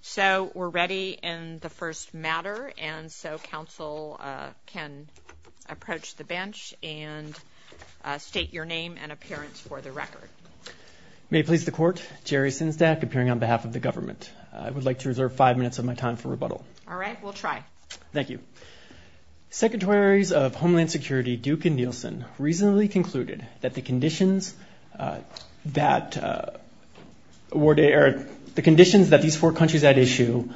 So, we're ready in the first matter, and so Council can approach the bench and state your name and appearance for the record. May it please the Court, Jerry Sinzdak, appearing on behalf of the government. I would like to reserve five minutes of my time for rebuttal. All right, we'll try. Thank you. Secretaries of Homeland Security Duke and Nielsen recently concluded that the conditions that these four countries had issued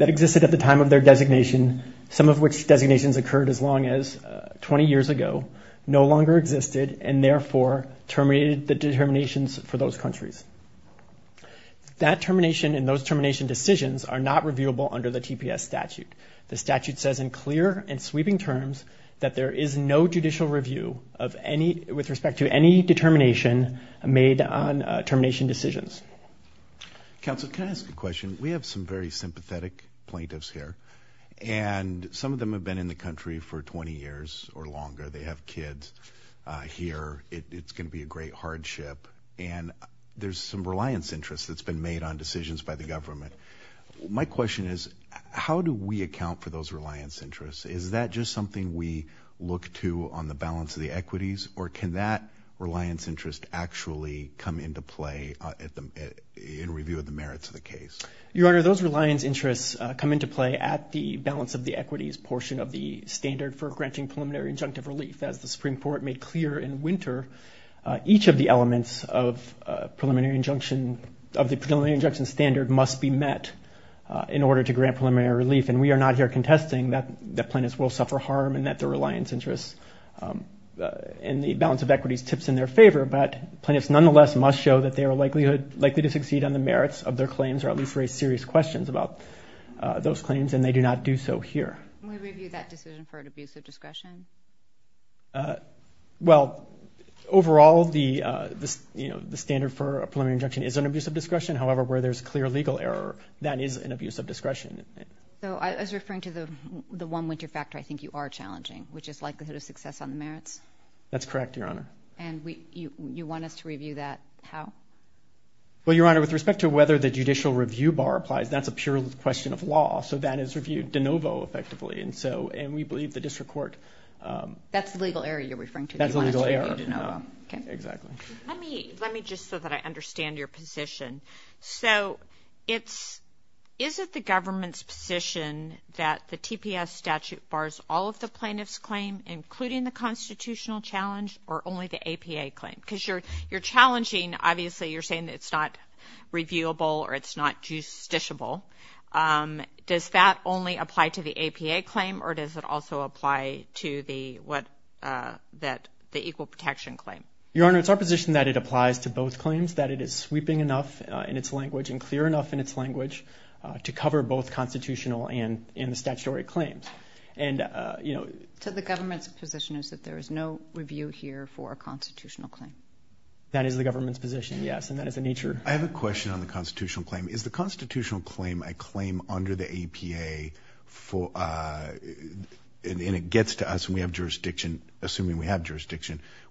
that existed at the time of their designation, some of which designations occurred as long as 20 years ago, no longer existed, and therefore terminated the determinations for those countries. That termination and those termination decisions are not reviewable under the TPS statute. The statute says in clear and sweeping terms that there is no judicial review with respect to any determination made on termination decisions. Counsel, can I ask a question? We have some very sympathetic plaintiffs here, and some of them have been in the country for 20 years or longer. They have kids here. It's going to be a great hardship, and there's some reliance interests that's been made on decisions by the government. My question is, how do we account for those reliance interests? Is that just something we look to on the balance of the equities, or can that reliance interest actually come into play in review of the merits of the case? Your Honor, those reliance interests come into play at the balance of the equities portion of the standard for granting preliminary injunctive relief. As the Supreme Court made clear in winter, each of the elements of the preliminary injunction standard must be met in order to grant preliminary relief, and we are not here contesting that plaintiffs will suffer harm and that the reliance interests and the balance of equities tips in their favor, but plaintiffs nonetheless must show that they are likely to succeed on the merits of their claims or at least raise serious questions about those claims, and they do not do so here. Can we review that decision for an abuse of discretion? Well, overall, the standard for a preliminary injunction is an abuse of discretion. However, where there's clear legal error, that is an abuse of discretion. So, as referring to the one winter factor, I think you are challenging, which is likelihood of success on the merits? That's correct, Your Honor. And you want us to review that how? Well, Your Honor, with respect to whether the judicial review bar applies, that's a pure question of law, so that is reviewed de novo effectively, and we believe the district court... That's the legal error you're referring to. That's the legal error. You want us to review de novo. Exactly. Let me just so that I understand your position. So, is it the government's position that the TPS statute bars all of the plaintiff's claim, including the constitutional challenge, or only the APA claim? Because you're challenging, obviously, you're saying that it's not reviewable or it's not justiciable. Does that only apply to the APA claim, or does it also apply to the equal protection claim? Your Honor, it's our position that it applies to both claims, that it is sweeping enough in its language and clear enough in its language to cover both constitutional and the statutory claims. And, you know... So, the government's position is that there is no review here for a constitutional claim? That is the government's position, yes, and that is the nature... I have a question on the constitutional claim. Is the constitutional claim a claim under the APA, and it gets to us, and we have jurisdiction,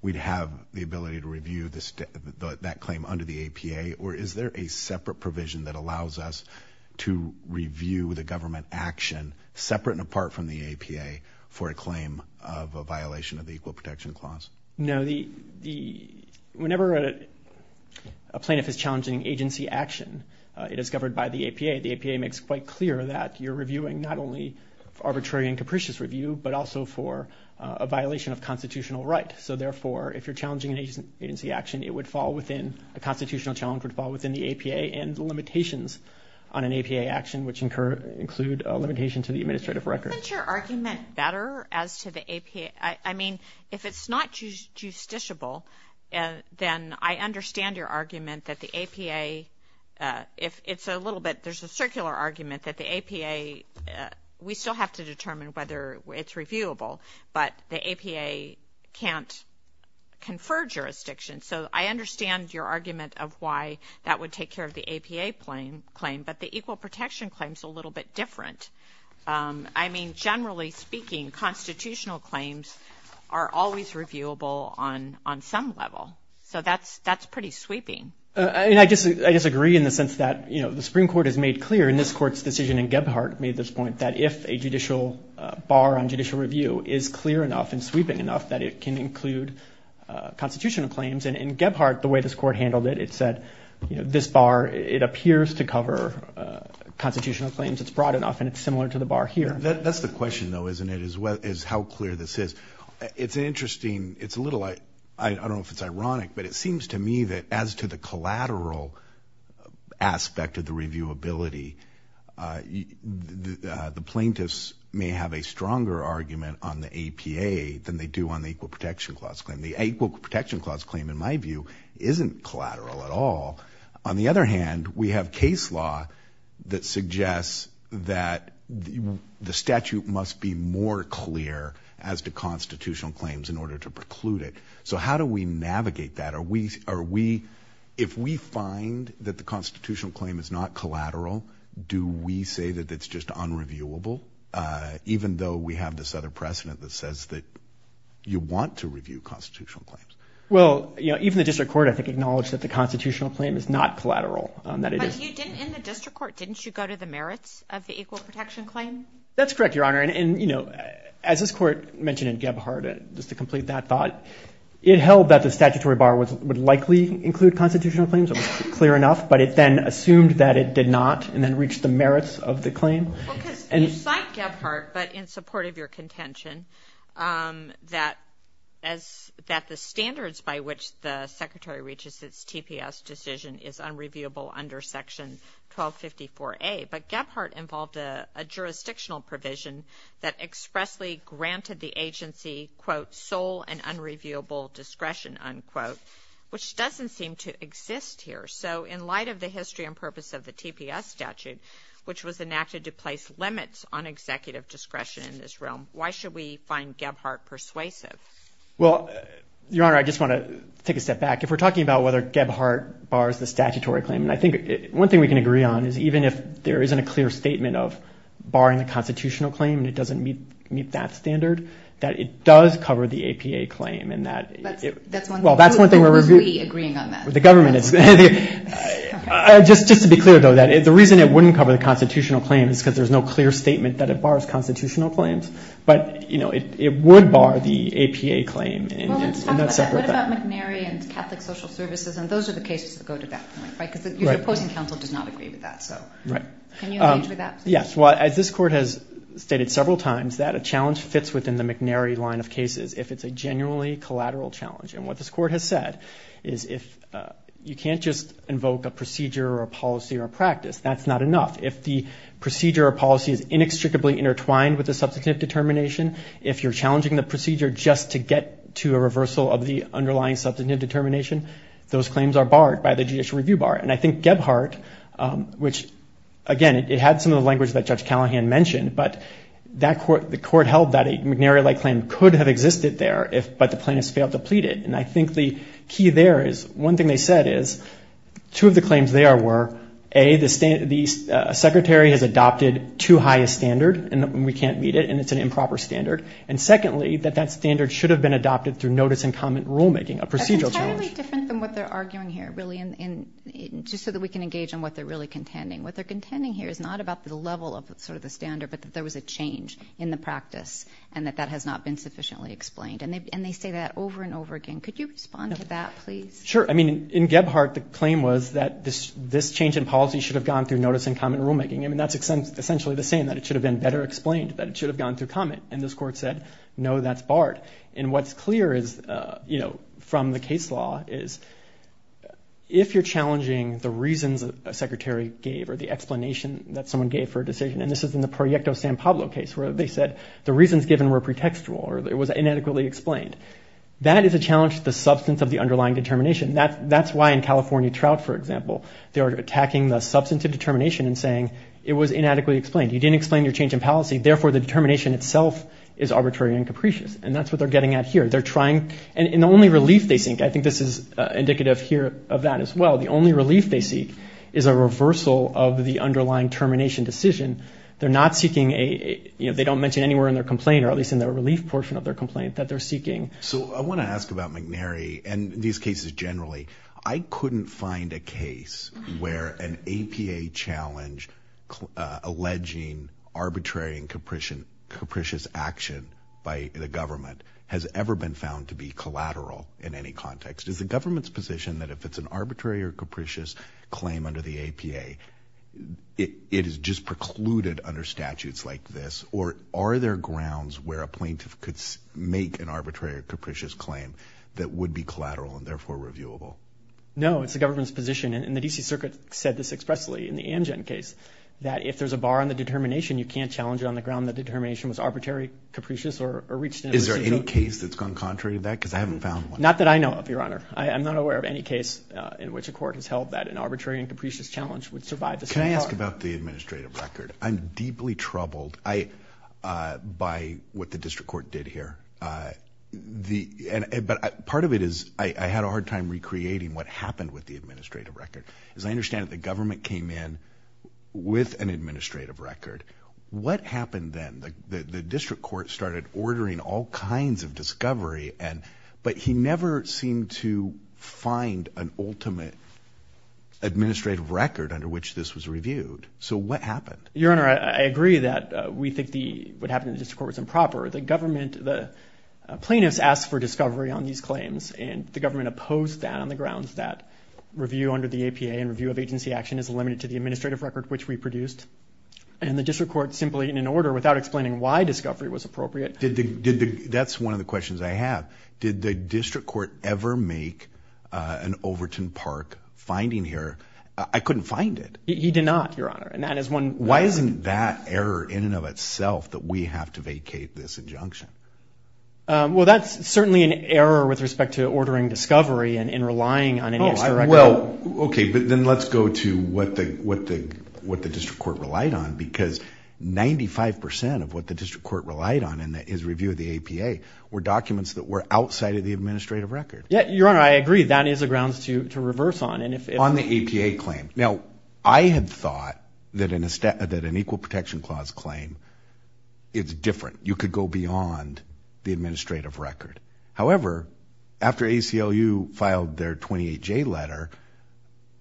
we'd have the ability to review that claim under the APA, or is there a separate provision that allows us to review the government action, separate and apart from the APA, for a claim of a violation of the Equal Protection Clause? No, the... Whenever a plaintiff is challenging agency action, it is governed by the APA. The APA makes quite clear that you're reviewing not only for arbitrary and capricious review, but also for a violation of constitutional right. So, therefore, if you're challenging an agency action, it would fall within... A constitutional challenge would fall within the APA and the limitations on an APA action, which include a limitation to the administrative record. Isn't your argument better as to the APA? I mean, if it's not justiciable, then I understand your argument that the APA... It's a little bit... There's a circular argument that the APA... ...couldn't confer jurisdiction, so I understand your argument of why that would take care of the APA claim, but the Equal Protection Claim's a little bit different. I mean, generally speaking, constitutional claims are always reviewable on some level, so that's pretty sweeping. I disagree in the sense that the Supreme Court has made clear, and this Court's decision in Gebhardt made this point, that if a judicial bar on judicial review is clear enough and does include constitutional claims, and in Gebhardt, the way this Court handled it, it said, you know, this bar, it appears to cover constitutional claims. It's broad enough, and it's similar to the bar here. That's the question, though, isn't it, is how clear this is? It's interesting. It's a little... I don't know if it's ironic, but it seems to me that as to the collateral aspect of the reviewability, the plaintiffs may have a stronger argument on the APA than they do on the Equal Protection Clause claim. The Equal Protection Clause claim, in my view, isn't collateral at all. On the other hand, we have case law that suggests that the statute must be more clear as to constitutional claims in order to preclude it. So how do we navigate that? If we find that the constitutional claim is not collateral, do we say that it's just unreviewable? Even though we have this other precedent that says that you want to review constitutional claims. Well, you know, even the District Court, I think, acknowledged that the constitutional claim is not collateral. But you didn't... In the District Court, didn't you go to the merits of the Equal Protection Claim? That's correct, Your Honor. And, you know, as this Court mentioned in Gebhardt, just to complete that thought, it held that the statutory bar would likely include constitutional claims. It was clear enough, but it then assumed that it did not, and then reached the merits of the claim. Well, because you cite Gebhardt, but in support of your contention, that the standards by which the Secretary reaches its TPS decision is unreviewable under Section 1254A. But Gebhardt involved a jurisdictional provision that expressly granted the agency, quote, sole and unreviewable discretion, unquote, which doesn't seem to exist here. So in light of the history and purpose of the TPS statute, which was enacted to place limits on executive discretion in this realm, why should we find Gebhardt persuasive? Well, Your Honor, I just want to take a step back. If we're talking about whether Gebhardt bars the statutory claim, and I think one thing we can agree on is even if there isn't a clear statement of barring the constitutional claim and it doesn't meet that standard, that it does cover the APA claim and that... That's one thing. Well, that's one thing where we're... Who is we agreeing on that? The government. The government. Just to be clear, though, that the reason it wouldn't cover the constitutional claim is because there's no clear statement that it bars constitutional claims. But it would bar the APA claim and that's separate from that. Well, let's talk about that. What about McNary and Catholic Social Services? And those are the cases that go to that point, right? Right. Because your opposing counsel does not agree with that, so... Right. Can you engage with that? Yes. Well, as this Court has stated several times, that a challenge fits within the McNary line of cases if it's a genuinely collateral challenge. And what this Court has said is if... You can't just invoke a procedure or a policy or a practice. That's not enough. If the procedure or policy is inextricably intertwined with the substantive determination, if you're challenging the procedure just to get to a reversal of the underlying substantive determination, those claims are barred by the judicial review bar. And I think Gebhardt, which, again, it had some of the language that Judge Callahan mentioned, but the Court held that a McNary-like claim could have existed there if... And I think the key there is, one thing they said is, two of the claims there were, A, the Secretary has adopted too high a standard and we can't meet it and it's an improper standard. And secondly, that that standard should have been adopted through notice and comment rulemaking, a procedural challenge. That's entirely different than what they're arguing here, really, just so that we can engage on what they're really contending. What they're contending here is not about the level of sort of the standard, but that there was a change in the practice and that that has not been sufficiently explained. And they say that over and over again. Could you respond to that, please? Sure. I mean, in Gebhardt, the claim was that this change in policy should have gone through notice and comment rulemaking. I mean, that's essentially the same, that it should have been better explained, that it should have gone through comment. And this Court said, no, that's barred. And what's clear from the case law is, if you're challenging the reasons a Secretary gave or the explanation that someone gave for a decision, and this is in the Proyecto San Pablo case where they said the reasons given were pretextual or it was inadequately explained, that is a challenge to the substance of the underlying determination. That's why in California Trout, for example, they were attacking the substance of determination and saying it was inadequately explained. You didn't explain your change in policy, therefore the determination itself is arbitrary and capricious. And that's what they're getting at here. They're trying, and the only relief they seek, I think this is indicative here of that as well, the only relief they seek is a reversal of the underlying termination decision. They're not seeking a, you know, they don't mention anywhere in their complaint, or at least in their relief portion of their complaint, that they're seeking. So I want to ask about McNary and these cases generally. I couldn't find a case where an APA challenge alleging arbitrary and capricious action by the government has ever been found to be collateral in any context. Is the government's position that if it's an arbitrary or capricious claim under the plaintiff could make an arbitrary or capricious claim that would be collateral and therefore reviewable? No. It's the government's position, and the DC Circuit said this expressly in the Amgen case, that if there's a bar on the determination, you can't challenge it on the ground that determination was arbitrary, capricious, or reached in a decision. Is there any case that's gone contrary to that, because I haven't found one. Not that I know of, Your Honor. I'm not aware of any case in which a court has held that an arbitrary and capricious challenge would survive the same bar. Can I ask about the administrative record? I'm deeply troubled by what the district court did here. Part of it is I had a hard time recreating what happened with the administrative record. As I understand it, the government came in with an administrative record. What happened then? The district court started ordering all kinds of discovery, but he never seemed to find an ultimate administrative record under which this was reviewed. So, what happened? Your Honor, I agree that we think what happened in the district court was improper. The government, the plaintiffs asked for discovery on these claims, and the government opposed that on the grounds that review under the APA and review of agency action is limited to the administrative record, which we produced, and the district court simply in an order without explaining why discovery was appropriate. That's one of the questions I have. Did the district court ever make an Overton Park finding here? I couldn't find it. He did not, Your Honor, and that is one- Why isn't that error in and of itself that we have to vacate this injunction? Well, that's certainly an error with respect to ordering discovery and in relying on any extra record. Well, okay, but then let's go to what the district court relied on because 95% of what the district court relied on in his review of the APA were documents that were outside of the administrative record. Yeah, Your Honor, I agree. That is a grounds to reverse on. On the APA claim. Now, I had thought that an Equal Protection Clause claim, it's different. You could go beyond the administrative record. However, after ACLU filed their 28J letter,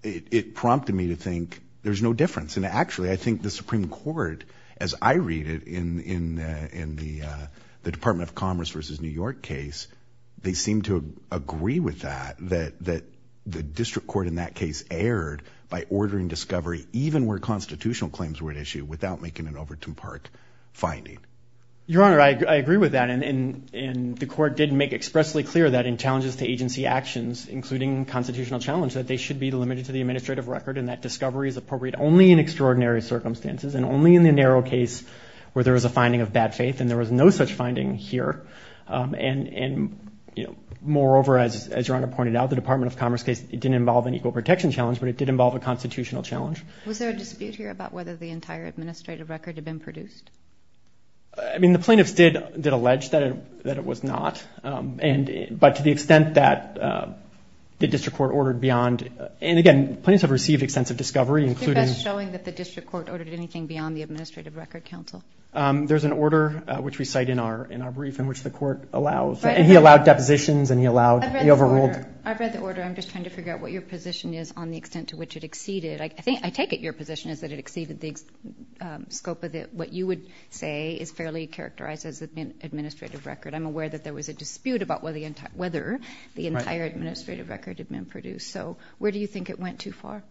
it prompted me to think there's no difference. Actually, I think the Supreme Court, as I read it in the Department of Commerce versus New York case, they seem to agree with that, that the district court in that case erred by ordering discovery even where constitutional claims were at issue without making an Overton Park finding. Your Honor, I agree with that and the court did make expressly clear that in challenges to agency actions, including constitutional challenge, that they should be limited to the administrative record and that discovery is appropriate only in extraordinary circumstances and only in the narrow case where there was a finding of bad faith and there was no such finding here. And moreover, as Your Honor pointed out, the Department of Commerce case, it didn't involve an equal protection challenge, but it did involve a constitutional challenge. Was there a dispute here about whether the entire administrative record had been produced? I mean, the plaintiffs did allege that it was not, but to the extent that the district court ordered beyond, and again, plaintiffs have received extensive discovery, including... Is it best showing that the district court ordered anything beyond the Administrative Record Council? There's an order, which we cite in our brief, in which the court allows, and he allowed depositions and he allowed, he overruled... I've read the order. I'm just trying to figure out what your position is on the extent to which it exceeded. I think, I take it your position is that it exceeded the scope of what you would say is fairly characterized as administrative record. I'm aware that there was a dispute about whether the entire administrative record had been produced. So, where do you think it went too far?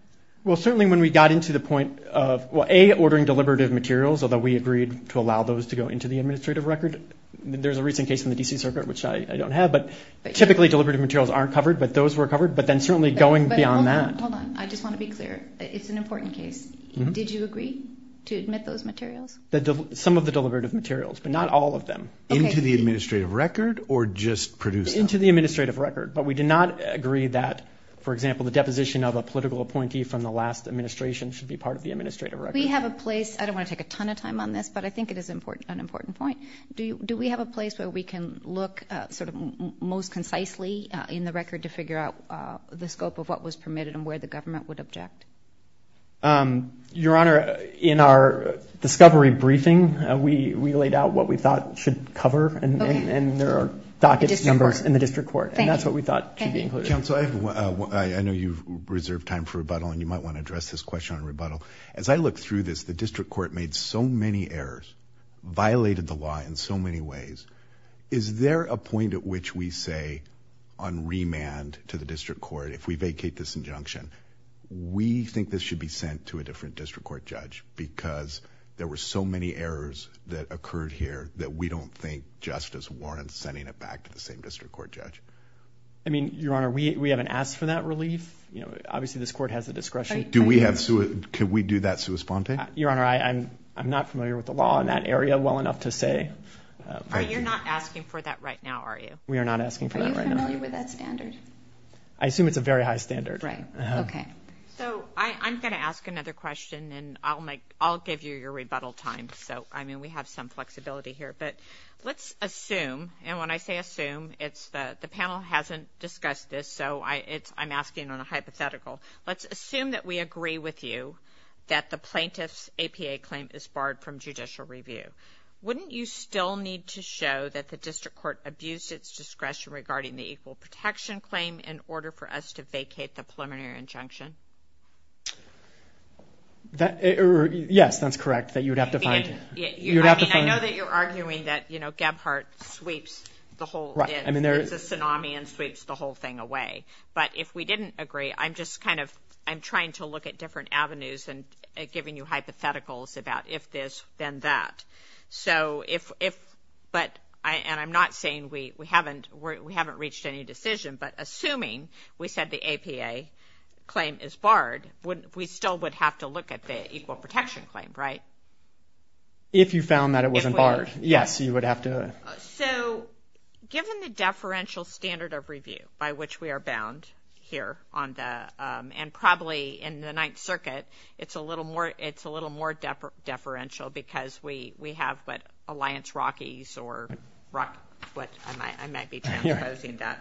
Well, certainly when we got into the point of, well, A, ordering deliberative materials, although we agreed to allow those to go into the administrative record. There's a recent case in the D.C. Circuit, which I don't have, but typically deliberative materials aren't covered, but those were covered, but then certainly going beyond that. Hold on, hold on. I just want to be clear. It's an important case. Did you agree to admit those materials? Some of the deliberative materials, but not all of them. Okay. Into the administrative record or just produced? Into the administrative record, but we did not agree that, for example, the deposition of a political appointee from the last administration should be part of the administrative record. We have a place, I don't want to take a ton of time on this, but I think it is an important point. Do we have a place where we can look sort of most concisely in the record to figure out the scope of what was permitted and where the government would object? Your Honor, in our discovery briefing, we laid out what we thought should cover, and there are docket numbers in the district court, and that's what we thought should be included. Thank you. Counsel, I know you've reserved time for rebuttal, and you might want to address this question on rebuttal. As I look through this, the district court made so many errors, violated the law in so many ways. Is there a point at which we say on remand to the district court, if we vacate this injunction, we think this should be sent to a different district court judge because there were so many errors that occurred here that we don't think justice warrants sending it back to the same district court judge? I mean, Your Honor, we haven't asked for that relief. Obviously, this court has the discretion. Could we do that sui sponte? Your Honor, I'm not familiar with the law in that area well enough to say. You're not asking for that right now, are you? We are not asking for that right now. Are you familiar with that standard? I assume it's a very high standard. Right. Okay. So, I'm going to ask another question, and I'll give you your rebuttal time, so, I mean, we have some flexibility here, but let's assume, and when I say assume, it's the panel hasn't discussed this, so I'm asking on a hypothetical. Let's assume that we agree with you that the plaintiff's APA claim is barred from judicial review. Wouldn't you still need to show that the district court abused its discretion regarding the equal protection claim in order for us to vacate the preliminary injunction? Yes, that's correct, that you would have to find... I mean, I know that you're arguing that, you know, Gebhardt sweeps the whole, it's a tsunami and sweeps the whole thing away. But if we didn't agree, I'm just kind of, I'm trying to look at different avenues and giving you hypotheticals about if this, then that. So if, but, and I'm not saying we haven't reached any decision, but assuming we said the APA claim is barred, we still would have to look at the equal protection claim, right? If you found that it wasn't barred, yes, you would have to... So given the deferential standard of review by which we are bound here on the, and probably in the Ninth Circuit, it's a little more, it's a little more deferential because we have what Alliance Rockies or Rock, what, I might be transposing that.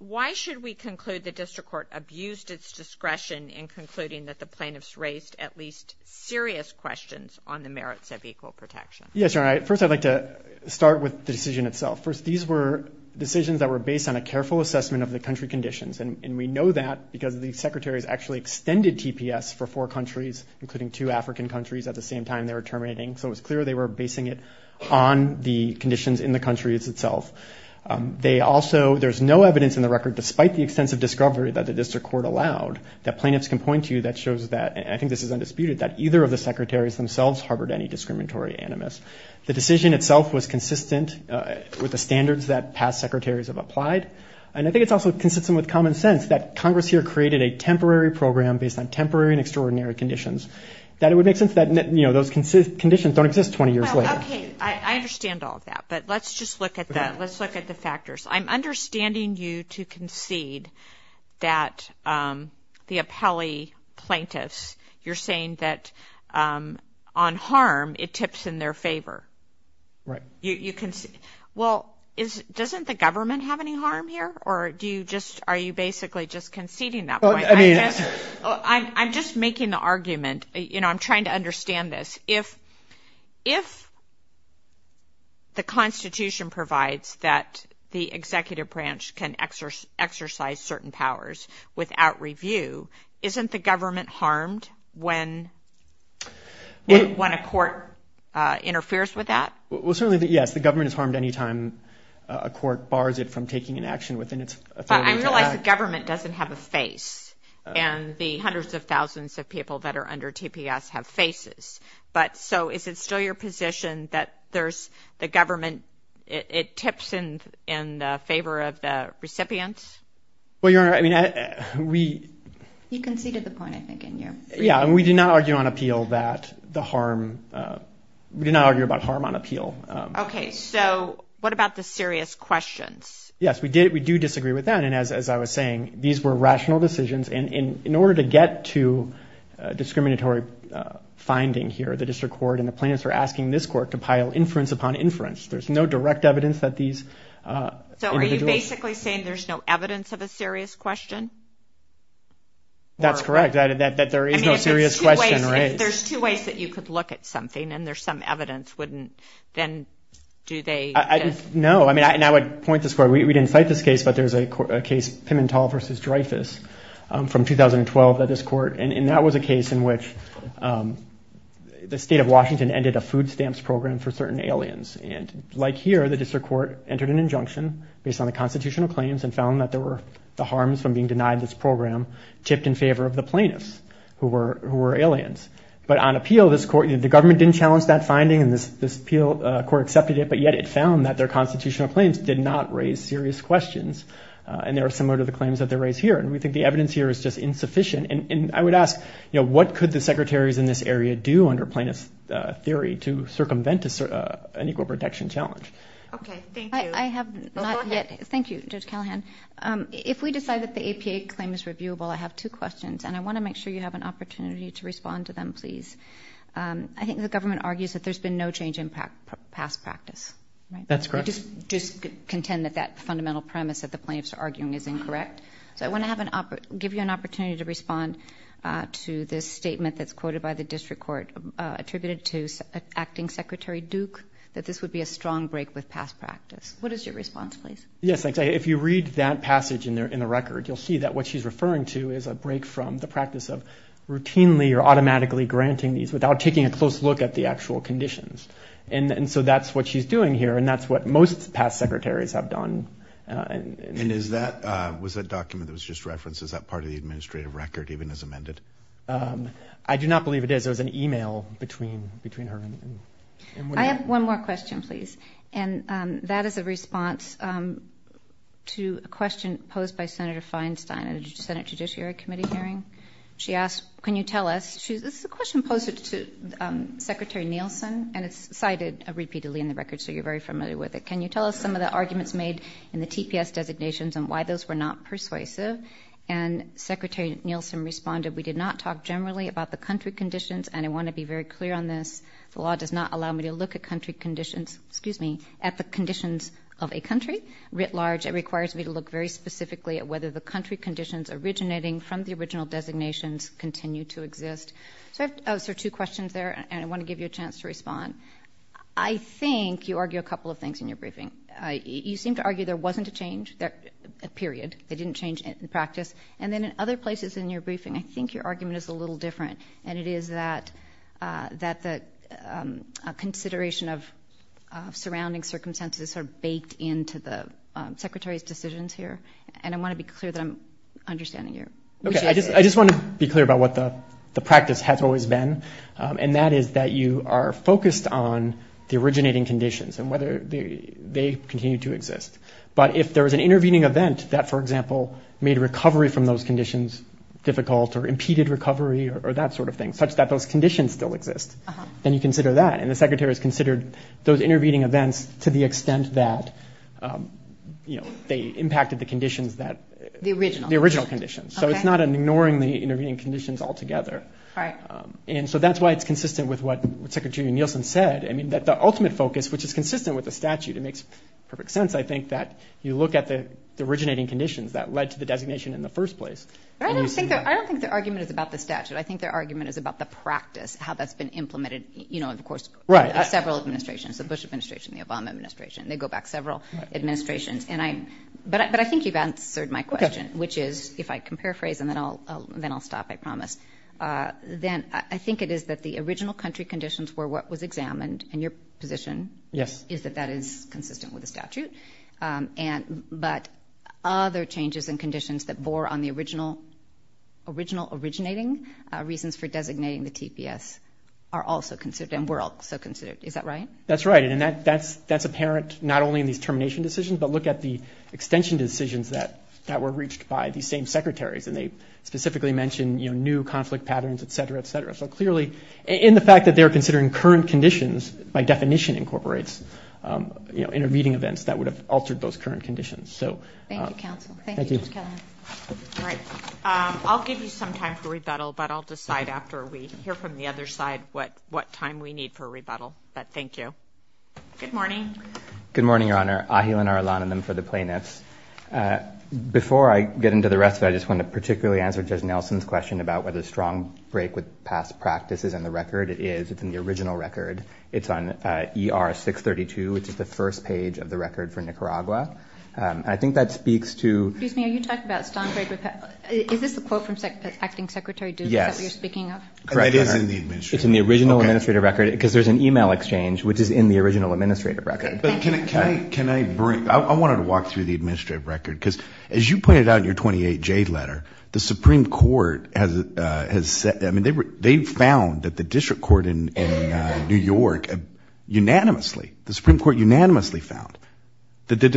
Why should we conclude the district court abused its discretion in concluding that the plaintiff's raised at least serious questions on the merits of equal protection? Yes, you're right. First, I'd like to start with the decision itself. First, these were decisions that were based on a careful assessment of the country conditions. And we know that because the secretaries actually extended TPS for four countries, including two African countries at the same time they were terminating. So it was clear they were basing it on the conditions in the country itself. They also, there's no evidence in the record, despite the extensive discovery that the district court allowed, that plaintiffs can point to that shows that, and I think this is undisputed, that either of the secretaries themselves harbored any discriminatory animus. The decision itself was consistent with the standards that past secretaries have applied. And I think it's also consistent with common sense that Congress here created a temporary program based on temporary and extraordinary conditions. That it would make sense that, you know, those conditions don't exist 20 years later. Okay. I understand all of that. But let's just look at that. Let's look at the factors. I'm understanding you to concede that the appellee plaintiffs, you're saying that on their favor. Right. Well, doesn't the government have any harm here? Or do you just, are you basically just conceding that point? I'm just making the argument, you know, I'm trying to understand this. If the Constitution provides that the executive branch can exercise certain powers without review, isn't the government harmed when a court interferes with that? Well, certainly, yes, the government is harmed any time a court bars it from taking an action within its authority to act. But I realize the government doesn't have a face, and the hundreds of thousands of people that are under TPS have faces. But so is it still your position that there's the government, it tips in favor of the recipients? Well, Your Honor, I mean, we... You conceded the point, I think, in your... Yeah, and we do not argue on appeal that the harm, we do not argue about harm on appeal. Okay, so what about the serious questions? Yes, we do disagree with that. And as I was saying, these were rational decisions. And in order to get to a discriminatory finding here, the district court and the plaintiffs are asking this court to pile inference upon inference. There's no direct evidence that these individuals... There's no direct evidence of a serious question? That's correct, that there is no serious question raised. There's two ways that you could look at something, and there's some evidence, wouldn't, then do they... No, I mean, and I would point this court, we didn't cite this case, but there's a case Pimentel v. Dreyfus from 2012 at this court. And that was a case in which the state of Washington ended a food stamps program for certain aliens. And like here, the district court entered an injunction based on the constitutional claims and found that there were the harms from being denied this program tipped in favor of the plaintiffs who were aliens. But on appeal, this court... The government didn't challenge that finding, and this appeal court accepted it, but yet it found that their constitutional claims did not raise serious questions. And they were similar to the claims that they raise here. And we think the evidence here is just insufficient. And I would ask, what could the secretaries in this area do under plaintiff's theory to circumvent an equal protection challenge? Okay, thank you. I have not yet... Go ahead. Thank you, Judge Callahan. If we decide that the APA claim is reviewable, I have two questions, and I want to make sure you have an opportunity to respond to them, please. I think the government argues that there's been no change in past practice, right? That's correct. You just contend that that fundamental premise that the plaintiffs are arguing is incorrect? So I want to give you an opportunity to respond to this statement that's quoted by the district court attributed to Acting Secretary Duke, that this would be a strong break with past practice. What is your response, please? Yes, thanks. If you read that passage in the record, you'll see that what she's referring to is a break from the practice of routinely or automatically granting these without taking a close look at the actual conditions. And so that's what she's doing here, and that's what most past secretaries have done. And is that... Was that document that was just referenced, is that part of the administrative record even as amended? I do not believe it is. There was an email between her and... I have one more question, please. And that is a response to a question posed by Senator Feinstein at a Senate Judiciary Committee hearing. She asked, can you tell us... This is a question posed to Secretary Nielsen, and it's cited repeatedly in the record, so you're very familiar with it. Can you tell us some of the arguments made in the TPS designations and why those were not persuasive? And Secretary Nielsen responded, we did not talk generally about the country conditions, and I want to be very clear on this, the law does not allow me to look at country conditions... Excuse me. At the conditions of a country, writ large, it requires me to look very specifically at whether the country conditions originating from the original designations continue to exist. So I have two questions there, and I want to give you a chance to respond. I think you argue a couple of things in your briefing. You seem to argue there wasn't a change, a period, they didn't change in practice. And then in other places in your briefing, I think your argument is a little different, and it is that the consideration of surrounding circumstances are baked into the Secretary's decisions here. And I want to be clear that I'm understanding you. I just want to be clear about what the practice has always been, and that is that you are focused on the originating conditions and whether they continue to exist. But if there was an intervening event that, for example, made recovery from those conditions difficult or impeded recovery or that sort of thing, such that those conditions still exist, then you consider that. And the Secretary has considered those intervening events to the extent that they impacted the conditions that... The original. The original conditions. So it's not an ignoring the intervening conditions altogether. And so that's why it's consistent with what Secretary Nielsen said, that the ultimate focus, which is consistent with the statute, it makes perfect sense, I think, that you first place. I don't think their argument is about the statute. I think their argument is about the practice, how that's been implemented, you know, of course, by several administrations, the Bush administration, the Obama administration. They go back several administrations. And I... But I think you've answered my question, which is, if I can paraphrase, and then I'll stop, I promise, then I think it is that the original country conditions were what was examined, and your position is that that is consistent with the statute. And... But other changes and conditions that bore on the original originating reasons for designating the TPS are also considered, and were also considered. Is that right? That's right. And that's apparent, not only in these termination decisions, but look at the extension decisions that were reached by these same secretaries, and they specifically mentioned, you know, new conflict patterns, et cetera, et cetera. So clearly, in the fact that they're considering current conditions, by definition incorporates you know, intervening events that would have altered those current conditions. So... Thank you, counsel. Thank you, Judge Kavanaugh. Thank you. All right. I'll give you some time for rebuttal, but I'll decide after we hear from the other side what time we need for rebuttal. But thank you. Good morning. Good morning, Your Honor. Ahilan Arulananam for the plaintiffs. Before I get into the rest of it, I just want to particularly answer Judge Nelson's question about whether strong break with past practice is in the record. It is. It's in the original record. It's on ER 632, which is the first page of the record for Nicaragua. I think that speaks to... Excuse me. Are you talking about strong break with past... Is this a quote from Acting Secretary Duke? Yes. Is that what you're speaking of? Correct, Your Honor. It is in the administrative record. Okay. It's in the original administrative record, because there's an email exchange, which is in the original administrative record. Okay. Thank you. But can I... Can I bring... I wanted to walk through the administrative record, because as you pointed out in your work, unanimously, the Supreme Court unanimously found that the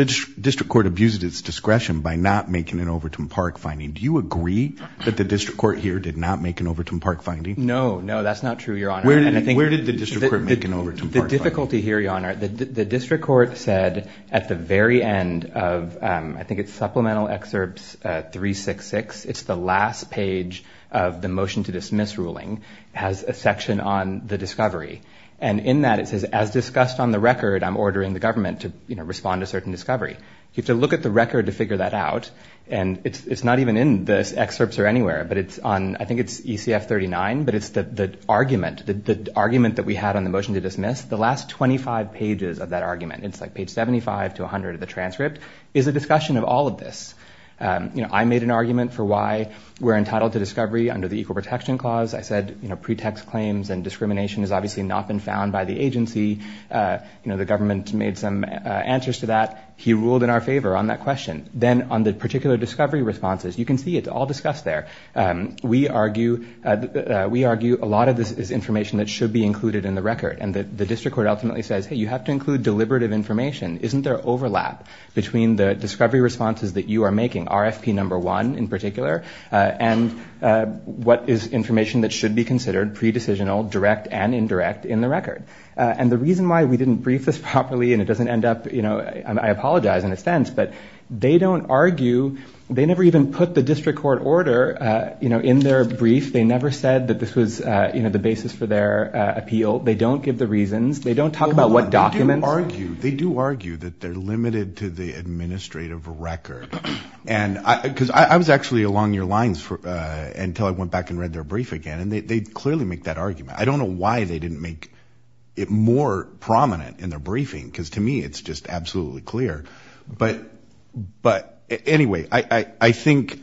district court abused its discretion by not making an Overton Park finding. Do you agree that the district court here did not make an Overton Park finding? No. No, that's not true, Your Honor. And I think... Where did the district court make an Overton Park finding? The difficulty here, Your Honor, the district court said at the very end of, I think it's Supplemental Excerpts 366, it's the last page of the motion to dismiss ruling, has a section on the discovery. And in that, it says, as discussed on the record, I'm ordering the government to respond to certain discovery. You have to look at the record to figure that out. And it's not even in the excerpts or anywhere, but it's on... I think it's ECF 39, but it's the argument that we had on the motion to dismiss, the last 25 pages of that argument, it's like page 75 to 100 of the transcript, is a discussion of all of this. I made an argument for why we're entitled to discovery under the Equal Protection Clause. I said, pretext claims and discrimination has obviously not been found by the agency. The government made some answers to that. He ruled in our favor on that question. Then on the particular discovery responses, you can see it's all discussed there. We argue a lot of this is information that should be included in the record. And the district court ultimately says, hey, you have to include deliberative information. Isn't there overlap between the discovery responses that you are making, RFP number one in particular, and what is information that should be considered pre-decisional, direct and indirect in the record? And the reason why we didn't brief this properly, and it doesn't end up... I apologize in a sense, but they don't argue... They never even put the district court order in their brief. They never said that this was the basis for their appeal. They don't give the reasons. They don't talk about what documents... They do argue that they're limited to the administrative record. And because I was actually along your lines until I went back and read their brief again, and they clearly make that argument. I don't know why they didn't make it more prominent in their briefing, because to me it's just absolutely clear. But anyway, I think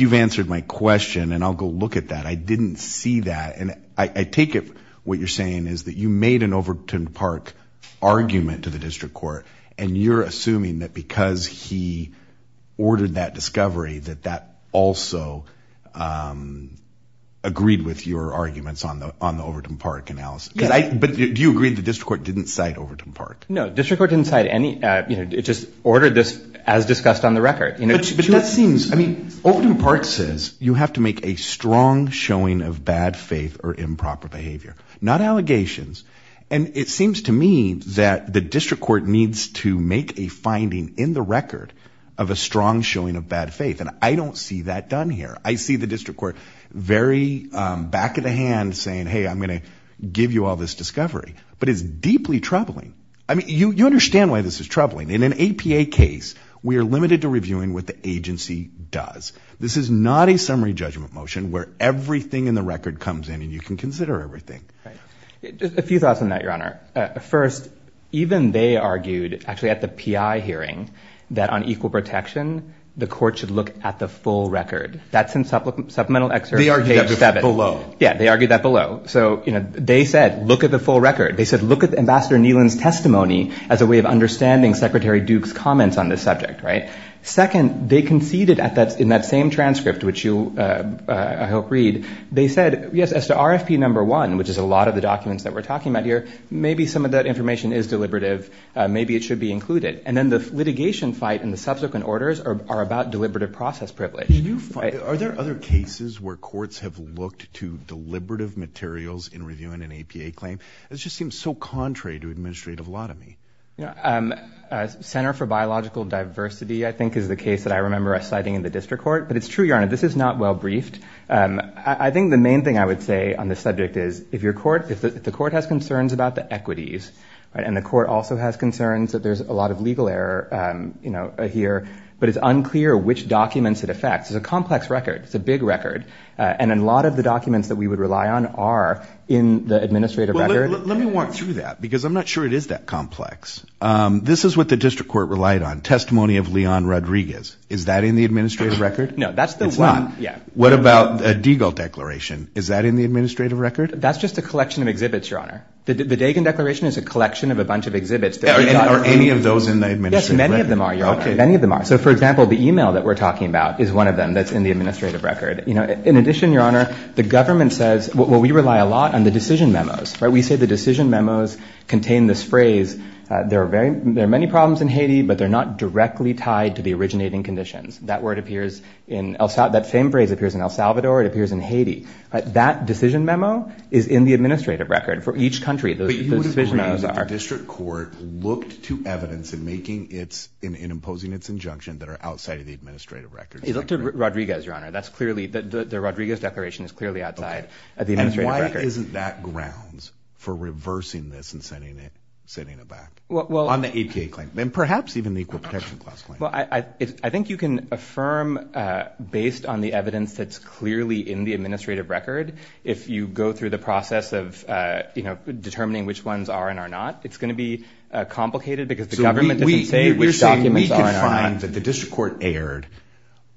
you've answered my question, and I'll go look at that. I didn't see that, and I take it what you're saying is that you made an Overton Park argument to the district court, and you're assuming that because he ordered that discovery, that that also agreed with your arguments on the Overton Park analysis. But do you agree the district court didn't cite Overton Park? No, district court didn't cite any... It just ordered this as discussed on the record. But that seems... I mean, Overton Park says you have to make a strong showing of bad faith or improper behavior, not allegations. And it seems to me that the district court needs to make a finding in the record of a strong showing of bad faith, and I don't see that done here. I see the district court very back of the hand saying, hey, I'm going to give you all this discovery. But it's deeply troubling. I mean, you understand why this is troubling. In an APA case, we are limited to reviewing what the agency does. This is not a summary judgment motion where everything in the record comes in and you can consider everything. A few thoughts on that, Your Honor. First, even they argued actually at the PI hearing that on equal protection, the court should look at the full record. That's in supplemental excerpt page 7. They argued that below. Yeah, they argued that below. So they said, look at the full record. They said, look at Ambassador Neelan's testimony as a way of understanding Secretary Duke's comments on this subject, right? Second, they conceded in that same transcript, which I hope you'll read, they said, yes, as to RFP number one, which is a lot of the documents that we're talking about here, maybe some of that information is deliberative. Maybe it should be included. And then the litigation fight and the subsequent orders are about deliberative process privilege. Are there other cases where courts have looked to deliberative materials in reviewing an APA claim? It just seems so contrary to administrative lottomy. Center for Biological Diversity, I think, is the case that I remember citing in the district court. But it's true, Your Honor. This is not well briefed. I think the main thing I would say on this subject is, if the court has concerns about the equities, and the court also has concerns that there's a lot of legal error here, but it's unclear which documents it affects. It's a complex record. It's a big record. And a lot of the documents that we would rely on are in the administrative record. Well, let me walk through that, because I'm not sure it is that complex. This is what the district court relied on, testimony of Leon Rodriguez. Is that in the administrative record? No, that's the one. What about the Deagle Declaration? Is that in the administrative record? That's just a collection of exhibits, Your Honor. The Dagan Declaration is a collection of a bunch of exhibits. Are any of those in the administrative record? Yes, many of them are, Your Honor. Many of them are. So, for example, the email that we're talking about is one of them that's in the administrative record. In addition, Your Honor, the government says, well, we rely a lot on the decision memos. We say the decision memos contain this phrase, there are many problems in Haiti, but they're not directly tied to the originating conditions. That word appears in El Salvador, that same phrase appears in El Salvador, it appears in Haiti. That decision memo is in the administrative record for each country, those decision memos are. But you would agree that the district court looked to evidence in making its, in imposing its injunction that are outside of the administrative record. It looked to Rodriguez, Your Honor. That's clearly, the Rodriguez Declaration is clearly outside of the administrative record. And why isn't that grounds for reversing this and sending it back? On the APA claim. And perhaps even the Equal Protection Clause claim. Well, I think you can affirm based on the evidence that's clearly in the administrative record. If you go through the process of, you know, determining which ones are and are not, it's going to be complicated because the government doesn't say which documents are and are not. So you're saying we can find that the district court erred,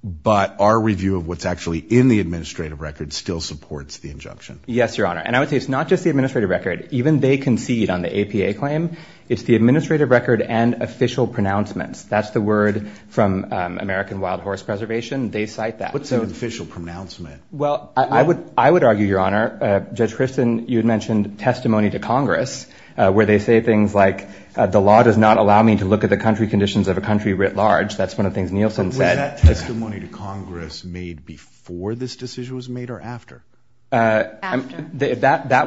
but our review of what's actually in the administrative record still supports the injunction. Yes, Your Honor. And I would say it's not just the administrative record. Even they concede on the APA claim, it's the administrative record and official pronouncements. That's the word from American Wild Horse Preservation. They cite that. What's an official pronouncement? Well, I would, I would argue, Your Honor, Judge Christin, you had mentioned testimony to Congress where they say things like, the law does not allow me to look at the country conditions of a country writ large. That's one of the things Nielsen said. But was that testimony to Congress made before this decision was made or after? That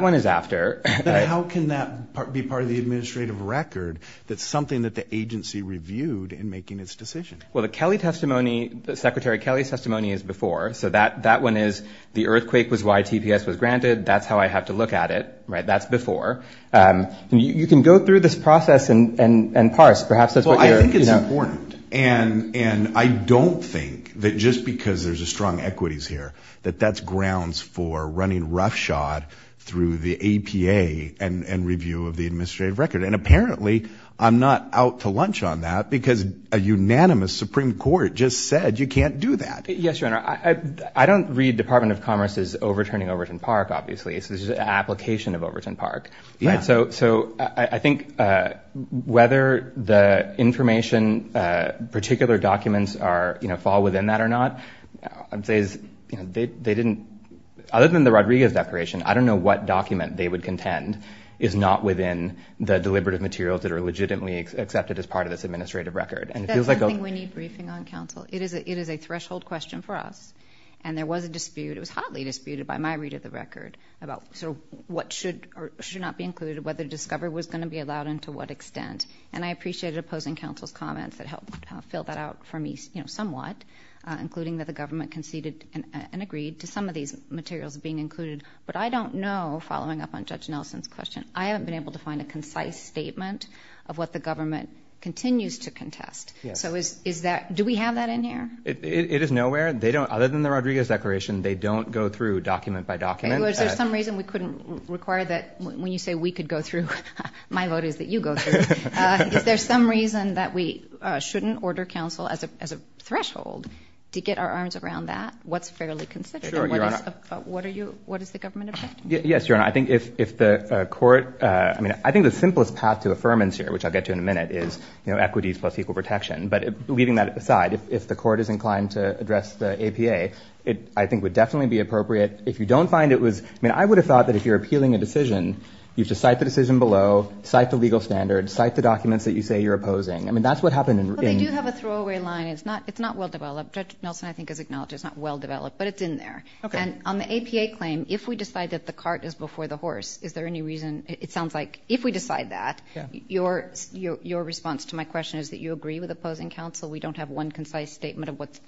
one is after. But how can that be part of the administrative record? That's something that the agency reviewed in making its decision. Well, the Kelly testimony, the Secretary Kelly's testimony is before. So that, that one is the earthquake was why TPS was granted. That's how I have to look at it. Right. That's before. And you can go through this process and, and, and parse, perhaps that's what you're, you know. Well, I think it's important. And, and I don't think that just because there's a strong equities here, that that's grounds for running roughshod through the APA and, and review of the administrative record. And apparently I'm not out to lunch on that because a unanimous Supreme Court just said you can't do that. Yes. Your Honor. I, I don't read Department of Commerce's overturning Overton Park, obviously it's just an application of Overton Park. Yeah. So, so I think whether the information particular documents are, you know, fall within that or not, I'd say is, you know, they, they didn't, other than the Rodriguez declaration, I don't know what document they would contend is not within the deliberative materials that are legitimately accepted as part of this administrative record. And it feels like- That's something we need briefing on, counsel. It is a, it is a threshold question for us. And there was a dispute. It was hotly disputed by my read of the record about sort of what should or should not be included, whether discovery was going to be allowed and to what extent. And I appreciated opposing counsel's comments that helped fill that out for me, you know, somewhat, including that the government conceded and, and agreed to some of these materials being included. But I don't know, following up on Judge Nelson's question, I haven't been able to find a concise statement of what the government continues to contest. So is, is that, do we have that in here? It is nowhere. They don't, other than the Rodriguez declaration, they don't go through document by document. Is there some reason we couldn't require that when you say we could go through, my vote is that you go through. Is there some reason that we shouldn't order counsel as a, as a threshold to get our arms around that? What's fairly consistent? Sure, Your Honor. What is, what are you, what is the government objecting to? Yes, Your Honor. I think if, if the court, I mean, I think the simplest path to affirmance here, which I'll get to in a minute is, you know, equities plus equal protection, but leaving that aside, if the court is inclined to address the APA, it, I think would definitely be appropriate if you don't find it was, I mean, I would have thought that if you're appealing a decision, you just cite the decision below, cite the legal standards, cite the documents that you say you're opposing. I mean, that's what happened in. Well, they do have a throwaway line. It's not, it's not well-developed. Judge Nelson, I think, has acknowledged it's not well-developed, but it's in there. Okay. And on the APA claim, if we decide that the cart is before the horse, is there any reason, it sounds like, if we decide that, your, your, your response to my question is that you agree with opposing counsel. We don't have one concise statement of what's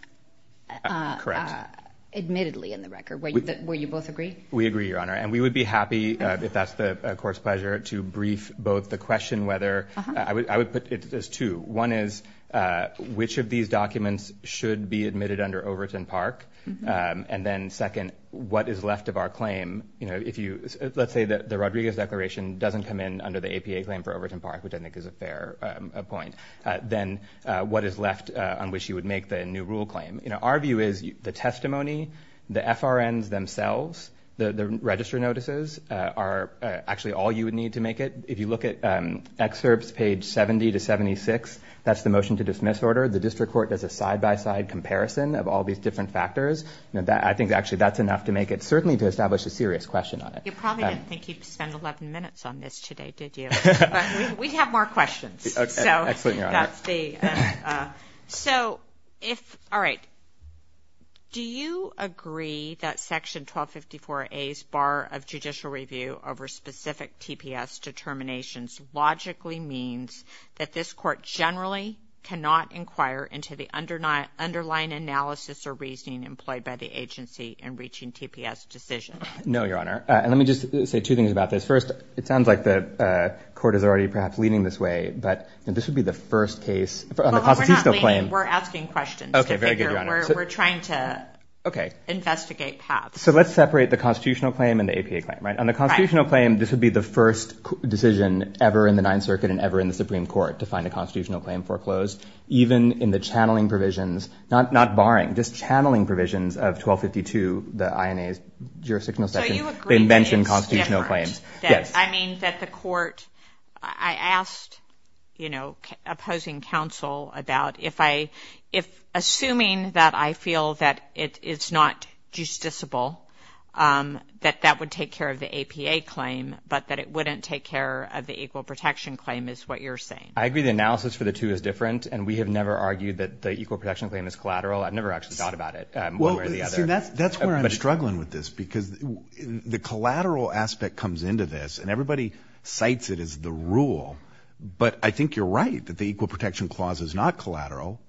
admittedly in the record, where you both agree? We agree, Your Honor, and we would be happy, if that's the court's pleasure, to brief both the question whether, I would, I would put it as two. One is, which of these documents should be admitted under Overton Park? And then second, what is left of our claim? You know, if you, let's say that the Rodriguez Declaration doesn't come in under the APA claim for Overton Park, which I think is a fair point, then what is left on which you would make the new rule claim? You know, our view is, the testimony, the FRNs themselves, the, the register notices, are actually all you would need to make it. If you look at excerpts, page 70 to 76, that's the motion to dismiss order. The district court does a side-by-side comparison of all these different factors, and that, I think, actually, that's enough to make it, certainly to establish a serious question on it. You probably didn't think you'd spend 11 minutes on this today, did you? We have more questions. Excellent, Your Honor. So, that's the, so, if, all right, do you agree that Section 1254A's bar of judicial review over specific TPS determinations logically means that this court generally cannot inquire into the underline, underlying analysis or reasoning employed by the agency in reaching TPS decisions? No, Your Honor. And let me just say two things about this. First, it sounds like the court is already, perhaps, leading this way, but, you know, this would be the first case, on the constitutional claim. Well, we're not leading. We're asking questions. Okay, very good, Your Honor. We're, we're trying to, Okay. Investigate paths. So, let's separate the constitutional claim and the APA claim, right? Right. And the constitutional claim, this would be the first decision ever in the Ninth Circuit and ever in the Supreme Court to find a constitutional claim foreclosed, even in the channeling provisions, not barring, just channeling provisions of 1252, the INA's jurisdictional section, So, you agree that it's different. They mention constitutional claims. Yes. I mean, that the court, I asked, you know, opposing counsel about if I, if, assuming that I feel that it is not justiciable, that that would take care of the APA claim, but that it wouldn't take care of the Equal Protection Claim is what you're saying. I agree the analysis for the two is different, and we have never argued that the Equal Protection Claim is collateral. I've never actually thought about it. One way or the other. Well, see, that's, that's where I'm struggling with this, because the collateral aspect comes into this, and everybody cites it as the rule, but I think you're right that the Equal Protection Clause is not collateral.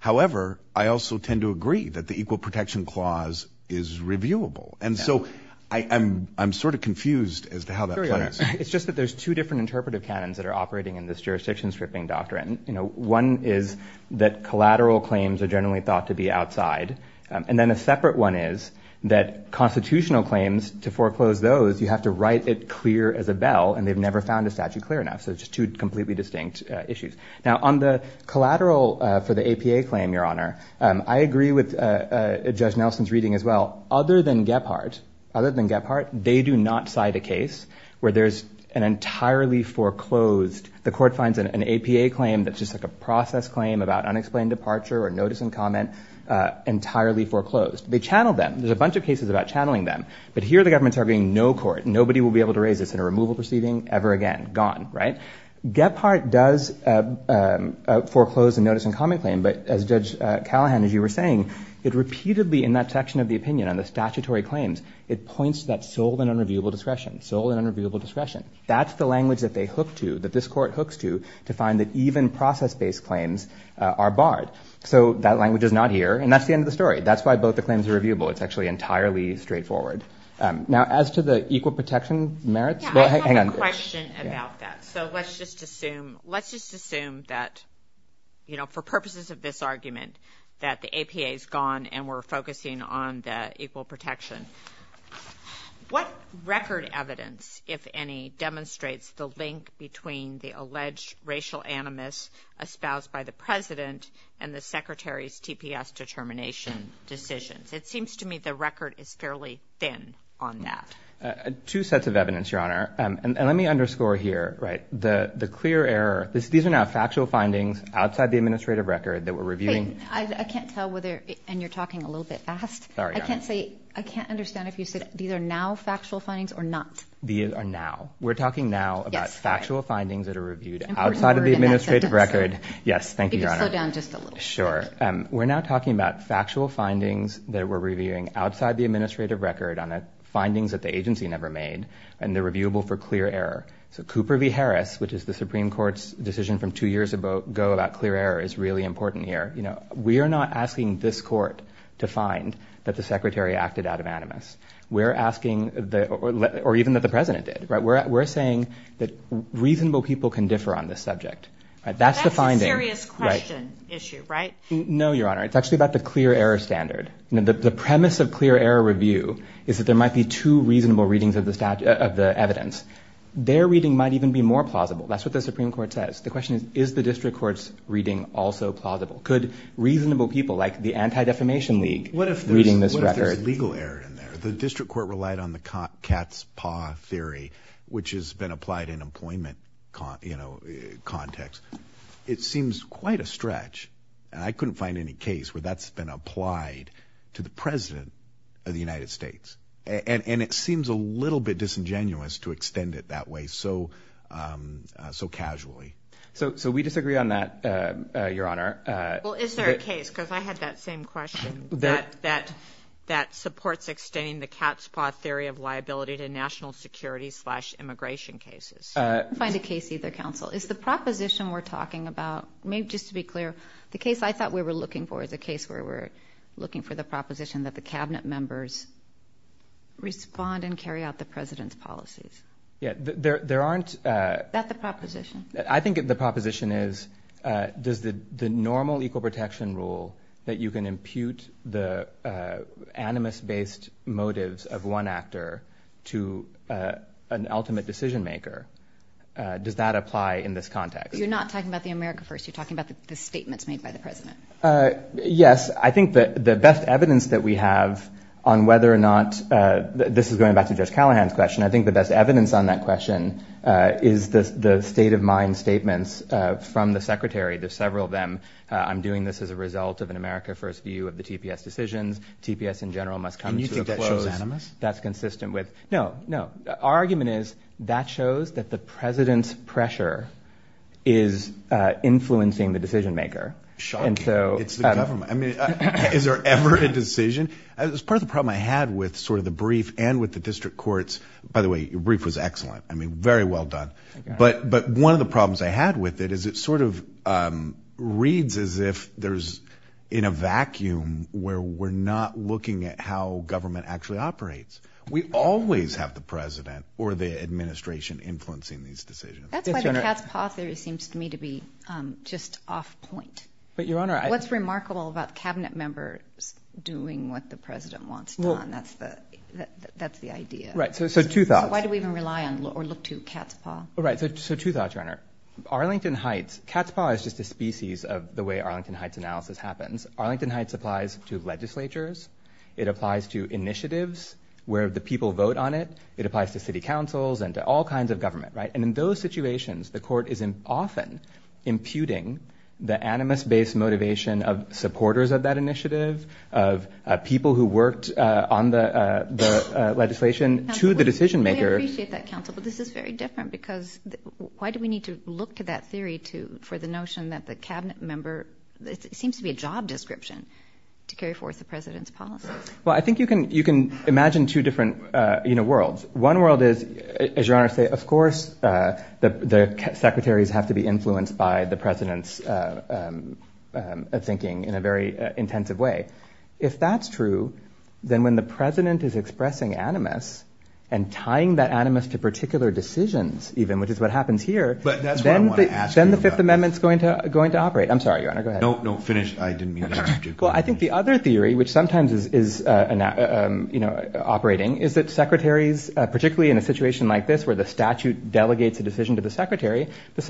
However, I also tend to agree that the Equal Protection Clause is reviewable, and so I'm, I'm sort of confused as to how that plays. It's just that there's two different interpretive canons that are operating in this jurisdiction stripping doctrine. You know, one is that collateral claims are generally thought to be outside, and then a separate one is that constitutional claims, to foreclose those, you have to write it clear as a bell, and they've never found a statute clear enough, so it's just two completely distinct issues. Now, on the collateral for the APA claim, Your Honor, I agree with Judge Nelson's reading as well. Other than Gephardt, other than Gephardt, they do not cite a case where there's an entirely foreclosed, the court finds an APA claim that's just like a process claim about unexplained departure or notice and comment, entirely foreclosed. They channel them. There's a bunch of cases about channeling them, but here the government's arguing no court, nobody will be able to raise this in a removal proceeding ever again, gone, right? Gephardt does foreclose a notice and comment claim, but as Judge Callahan, as you were saying, it repeatedly, in that section of the opinion on the statutory claims, it points to that sole and unreviewable discretion, sole and unreviewable discretion. That's the language that they hook to, that this court hooks to, to find that even process-based claims are barred. So that language is not here, and that's the end of the story. That's why both the claims are reviewable. It's actually entirely straightforward. Now, as to the equal protection merits, well, hang on. I have a question about that. So let's just assume, let's just assume that, you know, for purposes of this argument, that the APA's gone and we're focusing on the equal protection. What record evidence, if any, demonstrates the link between the alleged racial animus espoused by the President and the Secretary's TPS determination decisions? It seems to me the record is fairly thin on that. Two sets of evidence, Your Honor. And let me underscore here, right, the clear error, these are now factual findings outside the administrative record that we're reviewing. Wait. I can't tell whether, and you're talking a little bit fast. Sorry, Your Honor. I can't say, I can't understand if you said these are now factual findings or not. These are now. We're talking now about factual findings that are reviewed outside of the administrative record. Yes. Thank you, Your Honor. If you could slow down just a little bit. Sure. We're now talking about factual findings that we're reviewing outside the administrative record on the findings that the agency never made and they're reviewable for clear error. So Cooper v. Harris, which is the Supreme Court's decision from two years ago about clear error is really important here. We are not asking this Court to find that the Secretary acted out of animus. We're asking, or even that the President did, we're saying that reasonable people can differ on this subject. That's the finding. That's a serious question issue, right? No, Your Honor. It's actually about the clear error standard. The premise of clear error review is that there might be two reasonable readings of the evidence. Their reading might even be more plausible. That's what the Supreme Court says. The question is, is the district court's reading also plausible? Could reasonable people like the Anti-Defamation League reading this record? What if there's legal error in there? The district court relied on the cat's paw theory, which has been applied in employment context. It seems quite a stretch. I couldn't find any case where that's been applied to the President of the United States. It seems a little bit disingenuous to extend it that way so casually. We disagree on that, Your Honor. Is there a case, because I had that same question, that supports extending the cat's paw theory of liability to national security slash immigration cases? I couldn't find a case either, Counsel. Is the proposition we're talking about, just to be clear, the case I thought we were looking for is a case where we're looking for the proposition that the cabinet members respond and carry out the President's policies. There aren't- Is that the proposition? I think the proposition is, does the normal equal protection rule that you can impute the animus-based motives of one actor to an ultimate decision-maker, does that apply in this context? You're not talking about the America First. You're talking about the statements made by the President. Yes. I think that the best evidence that we have on whether or not- this is going back to Judge Callahan's question. I think the best evidence on that question is the state of mind statements from the Secretary. There's several of them. I'm doing this as a result of an America First view of the TPS decisions. TPS in general must come to a close- And you think that shows animus? That's consistent with- no, no. Our argument is that shows that the President's pressure is influencing the decision-maker. Shocking. It's the government. I mean, is there ever a decision? As part of the problem I had with sort of the brief and with the district courts- by the way, your brief was excellent. I mean, very well done. But one of the problems I had with it is it sort of reads as if there's in a vacuum where we're not looking at how government actually operates. We always have the President or the administration influencing these decisions. That's why the cat's paw theory seems to me to be just off point. But, Your Honor, I- What's remarkable about cabinet members doing what the President wants done, that's the idea. Right. So, two thoughts. Why do we even rely on or look to cat's paw? Right. So, two thoughts, Your Honor. Arlington Heights- cat's paw is just a species of the way Arlington Heights analysis happens. Arlington Heights applies to legislatures. It applies to initiatives where the people vote on it. It applies to city councils and to all kinds of government, right? And in those situations, the court is often imputing the animus-based motivation of supporters of that initiative, of people who worked on the legislation to the decision-maker- We appreciate that, counsel, but this is very different because why do we need to look to that theory for the notion that the cabinet member- it seems to be a job description to carry forth the President's policies. Well, I think you can imagine two different worlds. One world is, as Your Honor said, of course the secretaries have to be influenced by the President in an intensive way. If that's true, then when the President is expressing animus and tying that animus to particular decisions, even, which is what happens here, then the Fifth Amendment's going to operate. I'm sorry, Your Honor. Go ahead. No, no, finish. I didn't mean that. Well, I think the other theory, which sometimes is operating, is that secretaries, particularly in a situation like this where the statute delegates a decision to the secretary, the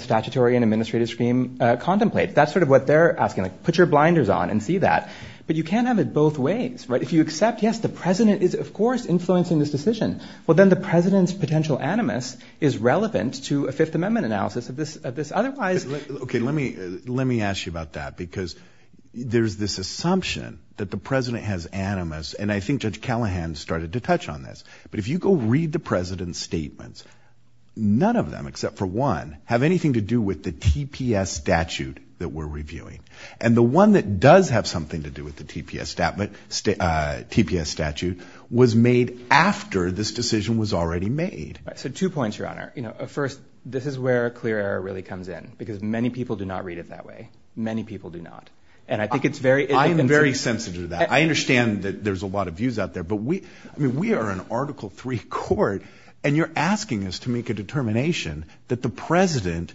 statutory and administrative scheme contemplates. That's sort of what they're asking. Like, put your blinders on and see that. But you can't have it both ways, right? If you accept, yes, the President is, of course, influencing this decision, well then the President's potential animus is relevant to a Fifth Amendment analysis of this otherwise- Okay, let me ask you about that because there's this assumption that the President has animus, and I think Judge Callahan started to touch on this, but if you go read the President's to do with the TPS statute that we're reviewing. And the one that does have something to do with the TPS statute was made after this decision was already made. Right. So two points, Your Honor. First, this is where a clear error really comes in because many people do not read it that way. Many people do not. And I think it's very- I am very sensitive to that. I understand that there's a lot of views out there, but we are an Article III court and you're asking us to make a determination that the President,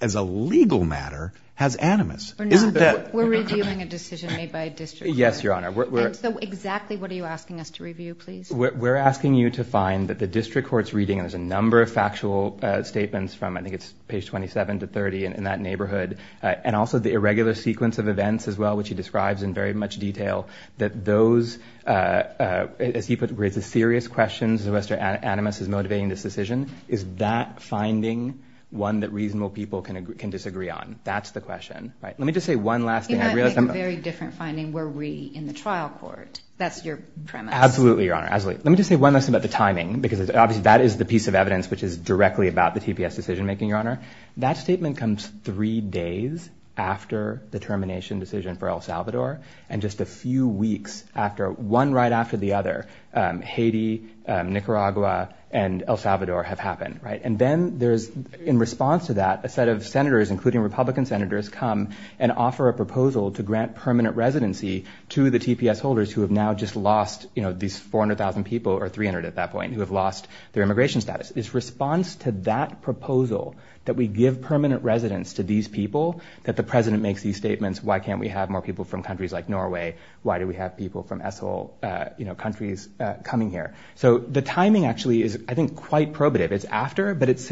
as a legal matter, has animus. Isn't that- We're not. We're reviewing a decision made by a district court. Yes, Your Honor. And so exactly what are you asking us to review, please? We're asking you to find that the district court's reading, and there's a number of factual statements from, I think it's page 27 to 30 in that neighborhood, and also the irregular sequence of events as well, which he describes in very much detail, that those, as he raises serious questions as to whether animus is motivating this decision, is that finding one that reasonable people can disagree on? That's the question, right? Let me just say one last thing. I realize I'm- You might make a very different finding were we in the trial court. That's your premise. Absolutely, Your Honor. Absolutely. Let me just say one last thing about the timing, because obviously that is the piece of evidence which is directly about the TPS decision making, Your Honor. That statement comes three days after the termination decision for El Salvador, and just a few weeks after, one right after the other, Haiti, Nicaragua, and El Salvador have happened, right? And then there's, in response to that, a set of senators, including Republican senators, come and offer a proposal to grant permanent residency to the TPS holders who have now just lost these 400,000 people, or 300 at that point, who have lost their immigration status. It's response to that proposal, that we give permanent residence to these people, that the president makes these statements, why can't we have more people from countries like Norway? Why do we have people from ISIL countries coming here? So the timing actually is, I think, quite probative. It's after, but it's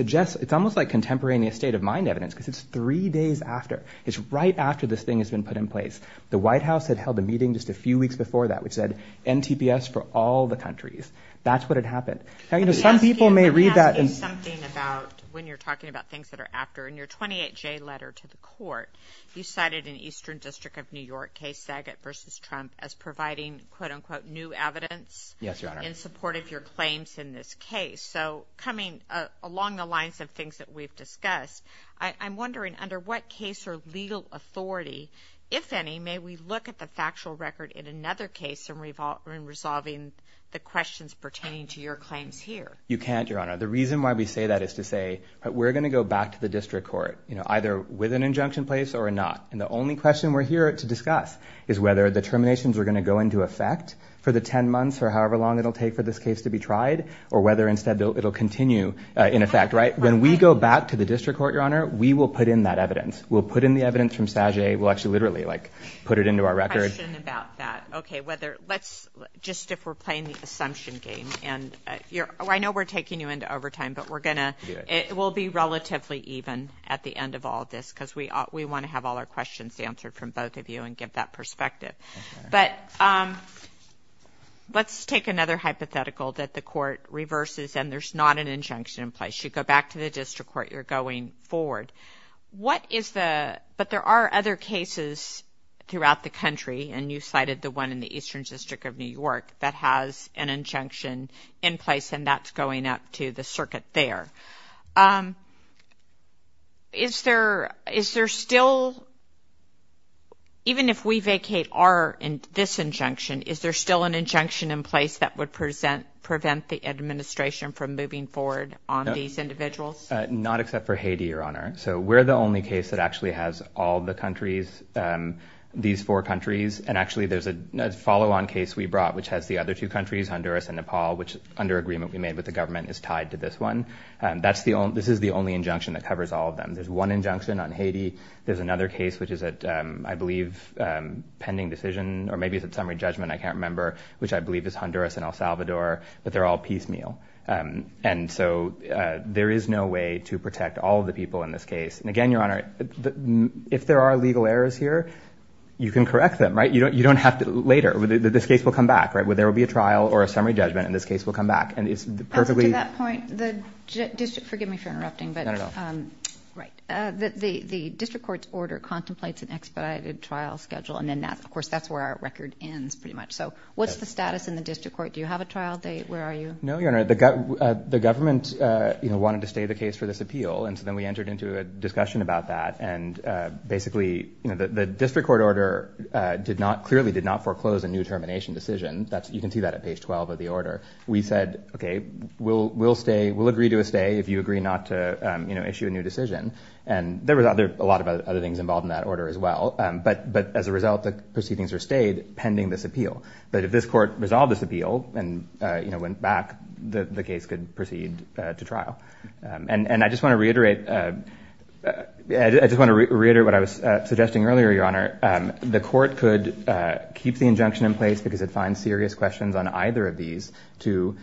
almost like contemporaneous state of mind evidence, because it's three days after. It's right after this thing has been put in place. The White House had held a meeting just a few weeks before that, which said, NTPS for all the countries. That's what had happened. Now, some people may read that- Let me ask you something about, when you're talking about things that are after, in your 28J letter to the court, you cited an Eastern District of New York case, Saget versus Trump, as providing, quote unquote, new evidence in support of your claims in this case. So coming along the lines of things that we've discussed, I'm wondering, under what case or legal authority, if any, may we look at the factual record in another case in resolving the questions pertaining to your claims here? You can't, Your Honor. The reason why we say that is to say, we're going to go back to the district court, either with an injunction placed or not. And the only question we're here to discuss is whether the terminations are going to go into effect for the 10 months or however long it'll take for this case to be tried, or whether instead it'll continue in effect, right? When we go back to the district court, Your Honor, we will put in that evidence. We'll put in the evidence from Saget, we'll actually literally put it into our record. Question about that. Okay, whether, let's, just if we're playing the assumption game, and I know we're taking you into overtime, but we're going to, it will be relatively even at the end of all this, because we want to have all our questions answered from both of you and give that perspective. But let's take another hypothetical that the court reverses and there's not an injunction in place. You go back to the district court, you're going forward. What is the, but there are other cases throughout the country, and you cited the one in the to the circuit there. Is there, is there still, even if we vacate our, this injunction, is there still an injunction in place that would present, prevent the administration from moving forward on these individuals? Not except for Haiti, Your Honor. So we're the only case that actually has all the countries, these four countries. And actually there's a follow-on case we brought, which has the other two countries, Honduras and Nepal, which under agreement we made with the government is tied to this one. That's the only, this is the only injunction that covers all of them. There's one injunction on Haiti. There's another case, which is at, I believe, pending decision, or maybe it's at summary judgment. I can't remember, which I believe is Honduras and El Salvador, but they're all piecemeal. And so there is no way to protect all of the people in this case. And again, Your Honor, if there are legal errors here, you can correct them, right? You don't, you don't have to later, this case will come back, right? But there will be a trial or a summary judgment, and this case will come back. And it's perfectly- To that point, the district, forgive me for interrupting, but, right, the district court's order contemplates an expedited trial schedule, and then of course that's where our record ends pretty much. So what's the status in the district court? Do you have a trial date? Where are you? No, Your Honor. The government, you know, wanted to stay the case for this appeal. And so then we entered into a discussion about that. And basically, you know, the district court order did not, clearly did not foreclose a new termination decision. You can see that at page 12 of the order. We said, okay, we'll stay, we'll agree to a stay if you agree not to, you know, issue a new decision. And there was a lot of other things involved in that order as well. But as a result, the proceedings are stayed pending this appeal. But if this court resolved this appeal and, you know, went back, the case could proceed to trial. And I just want to reiterate, I just want to reiterate what I was suggesting earlier, Your Honor. The court could keep the injunction in place because it finds serious questions on either of these to,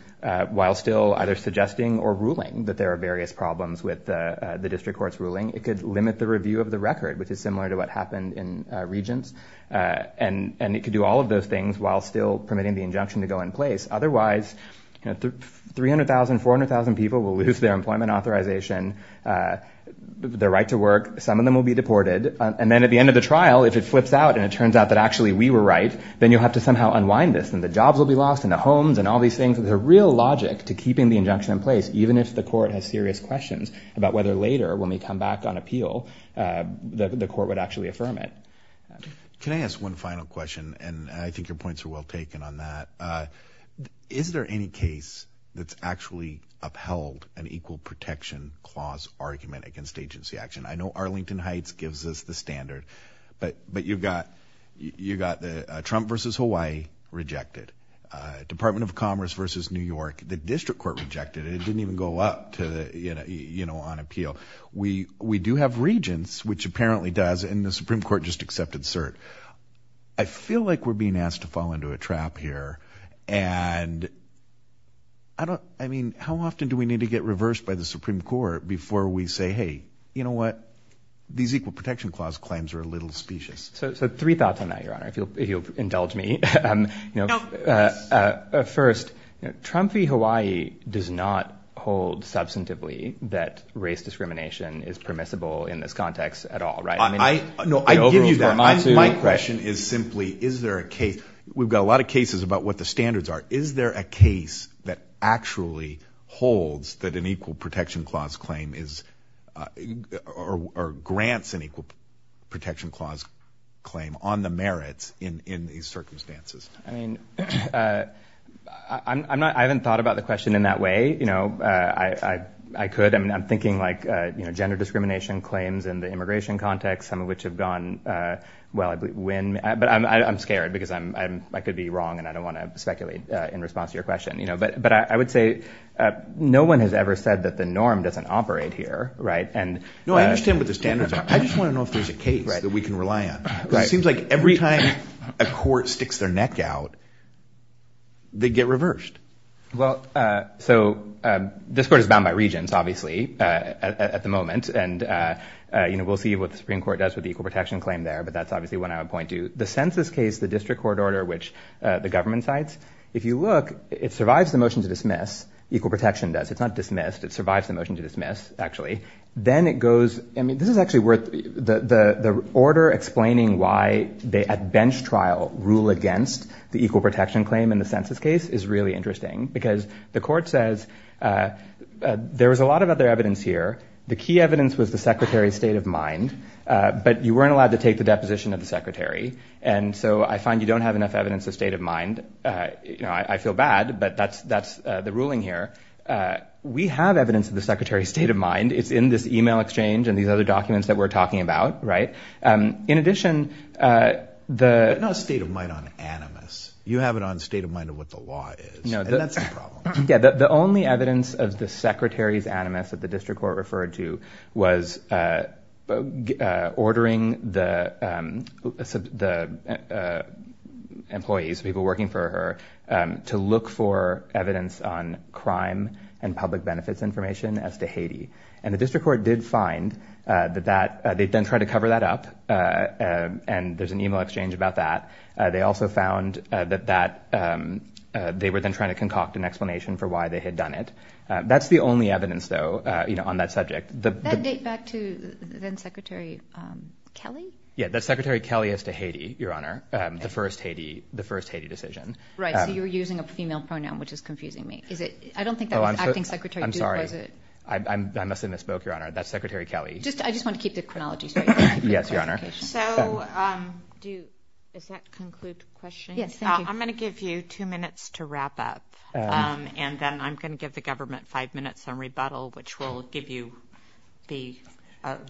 while still either suggesting or ruling that there are various problems with the district court's ruling, it could limit the review of the record, which is similar to what happened in Regents. And it could do all of those things while still permitting the injunction to go in place. Otherwise, you know, 300,000, 400,000 people will lose their employment authorization, their right to work. Some of them will be deported. And then at the end of the trial, if it flips out and it turns out that actually we were right, then you'll have to somehow unwind this and the jobs will be lost and the homes and all these things. There's a real logic to keeping the injunction in place, even if the court has serious questions about whether later, when we come back on appeal, the court would actually affirm it. Can I ask one final question? And I think your points are well taken on that. Is there any case that's actually upheld an equal protection clause argument against agency action? I know Arlington Heights gives us the standard, but, but you've got, you got the Trump versus Hawaii rejected, Department of Commerce versus New York, the district court rejected it. It didn't even go up to the, you know, you know, on appeal. We, we do have Regents, which apparently does, and the Supreme Court just accepted cert. I feel like we're being asked to fall into a trap here and I don't, I mean, how often do we need to get reversed by the Supreme Court before we say, Hey, you know what? These equal protection clause claims are a little specious. So, so three thoughts on that, your honor, if you'll, if you'll indulge me, you know, first Trump v. Hawaii does not hold substantively that race discrimination is permissible in this context at all, right? I mean, no, I give you that. My question is simply, is there a case, we've got a lot of cases about what the standards are. Is there a case that actually holds that an equal protection clause claim is, or grants an equal protection clause claim on the merits in, in these circumstances? I mean, I'm not, I haven't thought about the question in that way. You know, I, I, I could, I mean, I'm thinking like, you know, gender discrimination claims in the immigration context, some of which have gone well, I believe when, but I'm, I'm going to be wrong. And I don't want to speculate in response to your question, you know, but, but I would say no one has ever said that the norm doesn't operate here. Right. And no, I understand what the standards are. I just want to know if there's a case that we can rely on, because it seems like every time a court sticks their neck out, they get reversed. Well, so this court is bound by regions, obviously at the moment. And you know, we'll see what the Supreme court does with the equal protection claim there, but that's obviously when I would point to the census case, the district court order, which the government cites. If you look, it survives the motion to dismiss, equal protection does, it's not dismissed. It survives the motion to dismiss actually. Then it goes, I mean, this is actually worth the, the, the order explaining why they at bench trial rule against the equal protection claim in the census case is really interesting because the court says there was a lot of other evidence here. The key evidence was the secretary's state of mind, but you weren't allowed to take the deposition of the secretary. And so I find you don't have enough evidence of state of mind. You know, I feel bad, but that's, that's the ruling here. We have evidence of the secretary's state of mind. It's in this email exchange and these other documents that we're talking about. Right. In addition, the state of mind on animus, you have it on state of mind of what the law is. And that's the problem. Yeah. The only evidence of the secretary's animus that the district court referred to was ordering the employees, people working for her to look for evidence on crime and public benefits information as to Haiti. And the district court did find that that they've been trying to cover that up. And there's an email exchange about that. They also found that that they were then trying to concoct an explanation for why they had done it. That's the only evidence though, you know, on that subject, the date back to then secretary Kelly. Yeah. That's secretary Kelly has to Haiti, your honor. The first Haiti, the first Haiti decision, right? So you were using a female pronoun, which is confusing me. Is it? I don't think that was acting secretary. I'm sorry. I'm, I'm, I must've misspoke your honor. That's secretary Kelly. Just, I just want to keep the chronology. Sorry. Yes, your honor. So, um, do, is that conclude question? I'm going to give you two minutes to wrap up. And then I'm going to give the government five minutes on rebuttal, which will give you the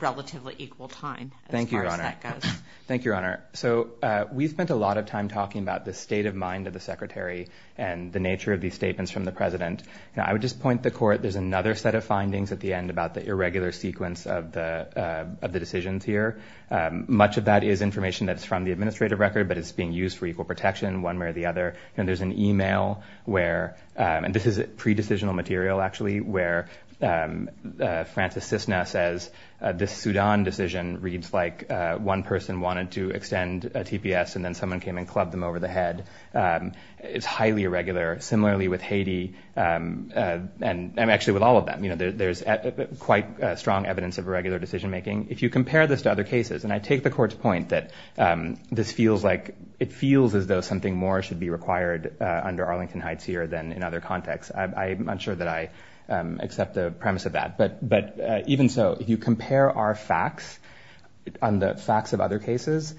relatively equal time as far as that goes. Thank you, your honor. So, uh, we've spent a lot of time talking about the state of mind of the secretary and the nature of these statements from the president. And I would just point the court. There's another set of findings at the end about the irregular sequence of the, uh, of the decisions here. Um, much of that is information that's from the administrative record, but it's being used for equal protection one way or the other, and there's an email where, um, and this is pre-decisional material actually where, um, uh, Francis Cisna says, uh, this Sudan decision reads like, uh, one person wanted to extend a TPS and then someone came and clubbed them over the head. Um, it's highly irregular similarly with Haiti, um, uh, and I'm actually with all of them, you know, there's quite a strong evidence of irregular decision-making if you compare this to other cases. And I take the court's point that, um, this feels like it feels as though something more should be required, uh, under Arlington Heights here than in other contexts. I, I'm not sure that I, um, accept the premise of that, but, but, uh, even so, if you compare our facts on the facts of other cases,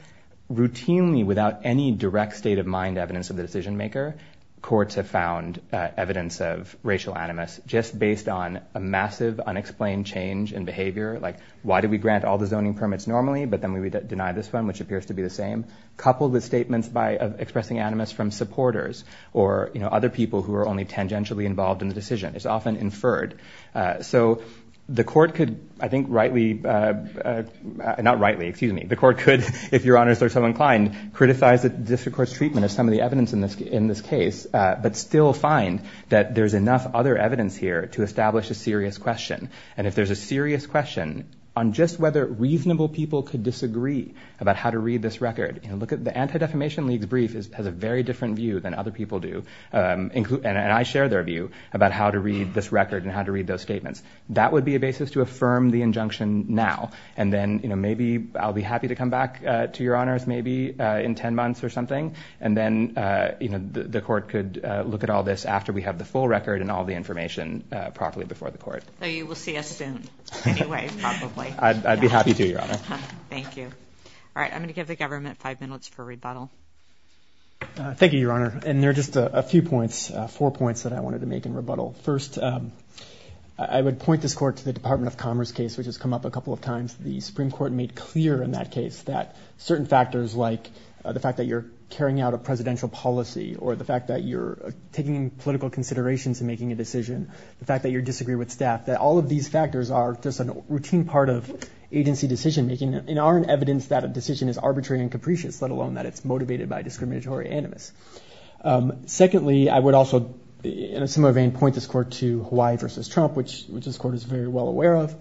routinely without any direct state of mind evidence of the decision maker, courts have found, uh, evidence of racial animus just based on a massive unexplained change in behavior. Like why did we grant all the zoning permits normally, but then we would deny this one, which appears to be the same. Couple the statements by expressing animus from supporters or, you know, other people who are only tangentially involved in the decision is often inferred. Uh, so the court could, I think rightly, uh, uh, not rightly, excuse me, the court could, if your honors are so inclined, criticize the district court's treatment of some of the evidence in this, in this case, uh, but still find that there's enough other evidence here to establish a serious question. And if there's a serious question on just whether reasonable people could disagree about how to read this record, you know, look at the Anti-Defamation League's brief is, has a very different view than other people do. Um, and I share their view about how to read this record and how to read those statements. That would be a basis to affirm the injunction now. And then, you know, maybe I'll be happy to come back to your honors maybe in 10 months or something. And then, uh, you know, the, the court could look at all this after we have the full record and all the information, uh, properly before the court. So you will see us soon anyway, probably. I'd be happy to, your honor. Thank you. All right. I'm going to give the government five minutes for rebuttal. Uh, thank you, your honor. And there are just a few points, uh, four points that I wanted to make in rebuttal. First, um, I would point this court to the Department of Commerce case, which has come up a couple of times. The Supreme Court made clear in that case that certain factors like, uh, the fact that you're carrying out a presidential policy or the fact that you're taking political considerations and making a decision, the fact that you're disagreeing with staff, that all of these factors are just a routine part of agency decision-making and are an evidence that a decision is arbitrary and capricious, let alone that it's motivated by discriminatory animus. Um, secondly, I would also, in a similar vein, point this court to Hawaii versus Trump, which, which this court is very well aware of.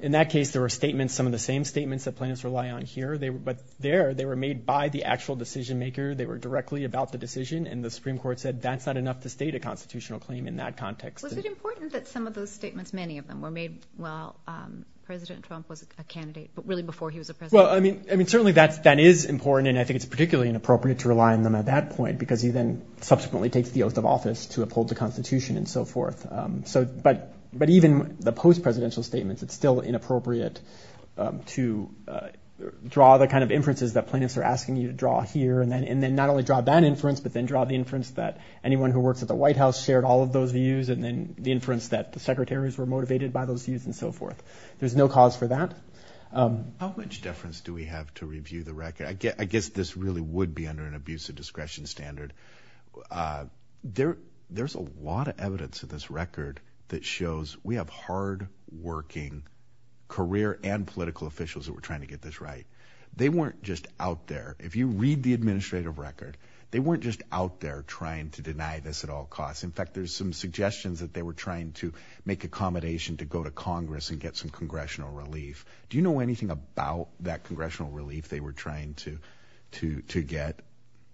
In that case, there were statements, some of the same statements that plaintiffs rely on here. They were, but there, they were made by the actual decision maker. They were directly about the decision and the Supreme Court said that's not enough to state a constitutional claim in that context. Was it important that some of those statements, many of them were made while, um, President Trump was a candidate, but really before he was a president? Well, I mean, I mean, certainly that's, that is important and I think it's particularly inappropriate to rely on them at that point because he then subsequently takes the oath of office to uphold the constitution and so forth. Um, so, but, but even the post-presidential statements, it's still inappropriate, um, to, uh, draw the kind of inferences that plaintiffs are asking you to draw here and then, and then not only draw that inference, but then draw the inference that anyone who works at the White House shared all of those views and then the inference that the secretaries were motivated by those views and so forth. There's no cause for that. Um, how much difference do we have to review the record? I guess, I guess this really would be under an abuse of discretion standard. Uh, there, there's a lot of evidence of this record that shows we have hard working career and political officials that were trying to get this right. They weren't just out there. If you read the administrative record, they weren't just out there trying to deny this at all costs. In fact, there's some suggestions that they were trying to make accommodation to go to Do you know anything about that congressional relief they were trying to, to, to get?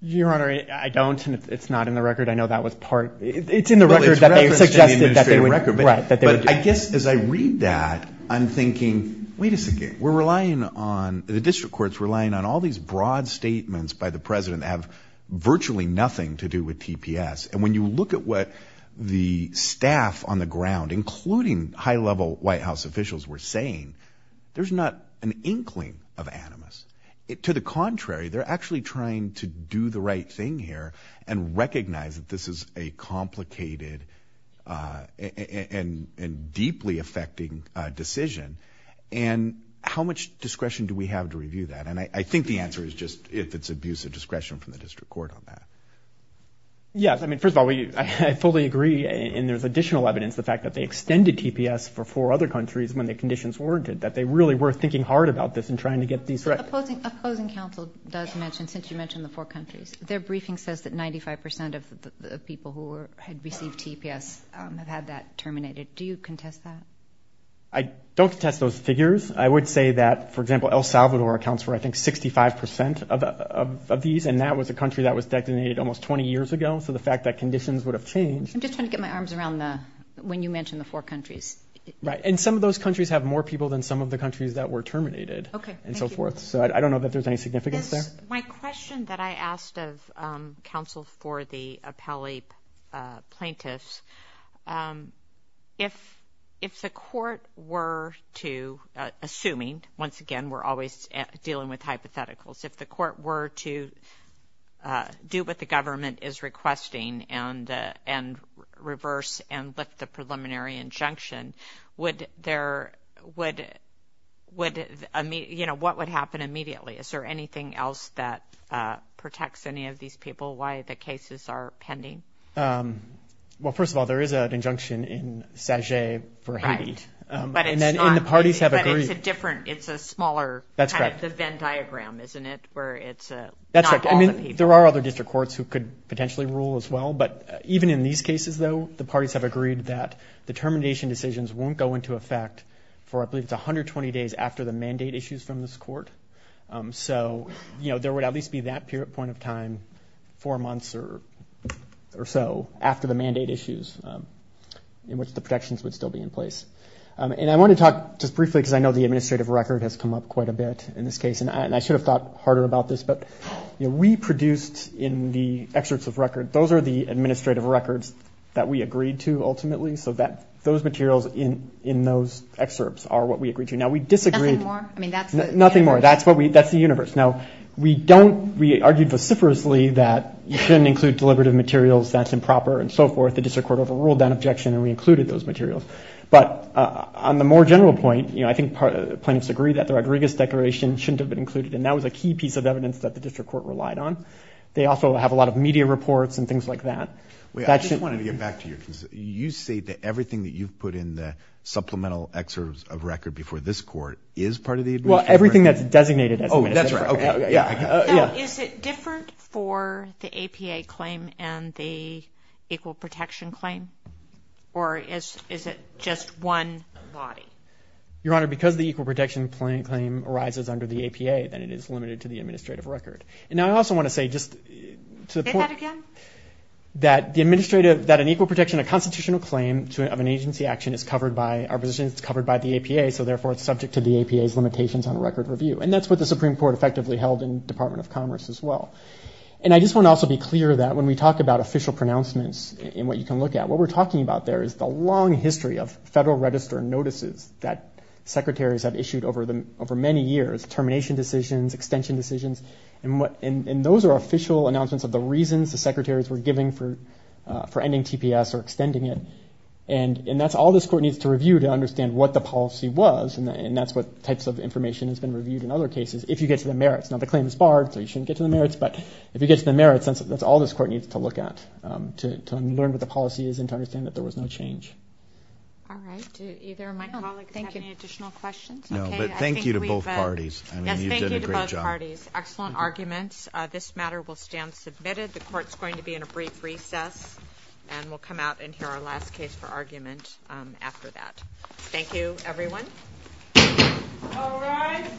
Your Honor, I don't, and it's not in the record. I know that was part, it's in the record that they suggested that they would, right. But I guess as I read that, I'm thinking, wait a second, we're relying on the district courts relying on all these broad statements by the president that have virtually nothing to do with TPS. And when you look at what the staff on the ground, including high level White House officials were saying, there's not an inkling of animus it to the contrary, they're actually trying to do the right thing here and recognize that this is a complicated, uh, and, and deeply affecting a decision. And how much discretion do we have to review that? And I think the answer is just if it's abuse of discretion from the district court on that. Yes. I mean, first of all, we, I fully agree in there's additional evidence. The fact that they extended TPS for four other countries when the conditions warranted that they really were thinking hard about this and trying to get these right. Opposing, opposing counsel does mention, since you mentioned the four countries, their briefing says that 95% of the people who were, had received TPS, um, have had that terminated. Do you contest that? I don't contest those figures. I would say that, for example, El Salvador accounts for, I think, 65% of, of, of these. And that was a country that was detonated almost 20 years ago. So the fact that conditions would have changed. I'm just trying to get my arms around the, when you mentioned the four countries. Right. And some of those countries have more people than some of the countries that were terminated and so forth. So I don't know that there's any significance there. My question that I asked of, um, counsel for the appellee, uh, plaintiffs, um, if, if the court were to, uh, assuming once again, we're always dealing with hypotheticals, if the and lift the preliminary injunction, would there, would, would, I mean, you know, what would happen immediately? Is there anything else that, uh, protects any of these people? Why the cases are pending? Um, well, first of all, there is an injunction in Saget for Haiti, um, and then the parties have agreed. But it's a different, it's a smaller, kind of the Venn diagram, isn't it? Where it's, uh, not all the people. That's right. I mean, there are other district courts who could potentially rule as well, but even in these cases, though, the parties have agreed that the termination decisions won't go into effect for, I believe it's 120 days after the mandate issues from this court. Um, so, you know, there would at least be that period, point of time, four months or, or so after the mandate issues, um, in which the protections would still be in place. Um, and I want to talk just briefly, because I know the administrative record has come up quite a bit in this case, and I, and I should have thought harder about this, but we produced in the excerpts of record, those are the administrative records that we agreed to ultimately. So that those materials in, in those excerpts are what we agreed to. Now we disagreed. Nothing more. I mean, that's nothing more. That's what we, that's the universe. Now we don't, we argued vociferously that you shouldn't include deliberative materials. That's improper and so forth. The district court overruled that objection and we included those materials, but, uh, on the more general point, you know, I think plaintiffs agree that the Rodriguez declaration shouldn't have been included. And that was a key piece of evidence that the district court relied on. They also have a lot of media reports and things like that. Wait, I just wanted to get back to your, you say that everything that you've put in the supplemental excerpts of record before this court is part of the administrative record? Well, everything that's designated as administrative record. Oh, that's right. Okay. Yeah. Yeah. Is it different for the APA claim and the equal protection claim or is, is it just one body? Your Honor, because the equal protection claim arises under the APA, then it is limited to the administrative record. And now I also want to say just to the point, that the administrative, that an equal protection, a constitutional claim to an, of an agency action is covered by our position, it's covered by the APA. So therefore it's subject to the APA's limitations on a record review. And that's what the Supreme Court effectively held in Department of Commerce as well. And I just want to also be clear that when we talk about official pronouncements in what you can look at, what we're talking about there is the long history of federal register notices that secretaries have issued over the, over many years, termination decisions, extension decisions, and what, and, and those are official announcements of the reasons the secretaries were giving for, for ending TPS or extending it. And that's all this court needs to review to understand what the policy was and that's what types of information has been reviewed in other cases. If you get to the merits, now the claim is barred, so you shouldn't get to the merits, but if you get to the merits, that's all this court needs to look at to, to learn what the policy is and to understand that there was no change. All right. Do either of my colleagues have any additional questions? No. But thank you to both parties. I mean, you've done a great job. Yes. Thank you to both parties. Excellent arguments. This matter will stand submitted. The court's going to be in a brief recess and we'll come out and hear our last case for argument after that. Thank you, everyone. All rise.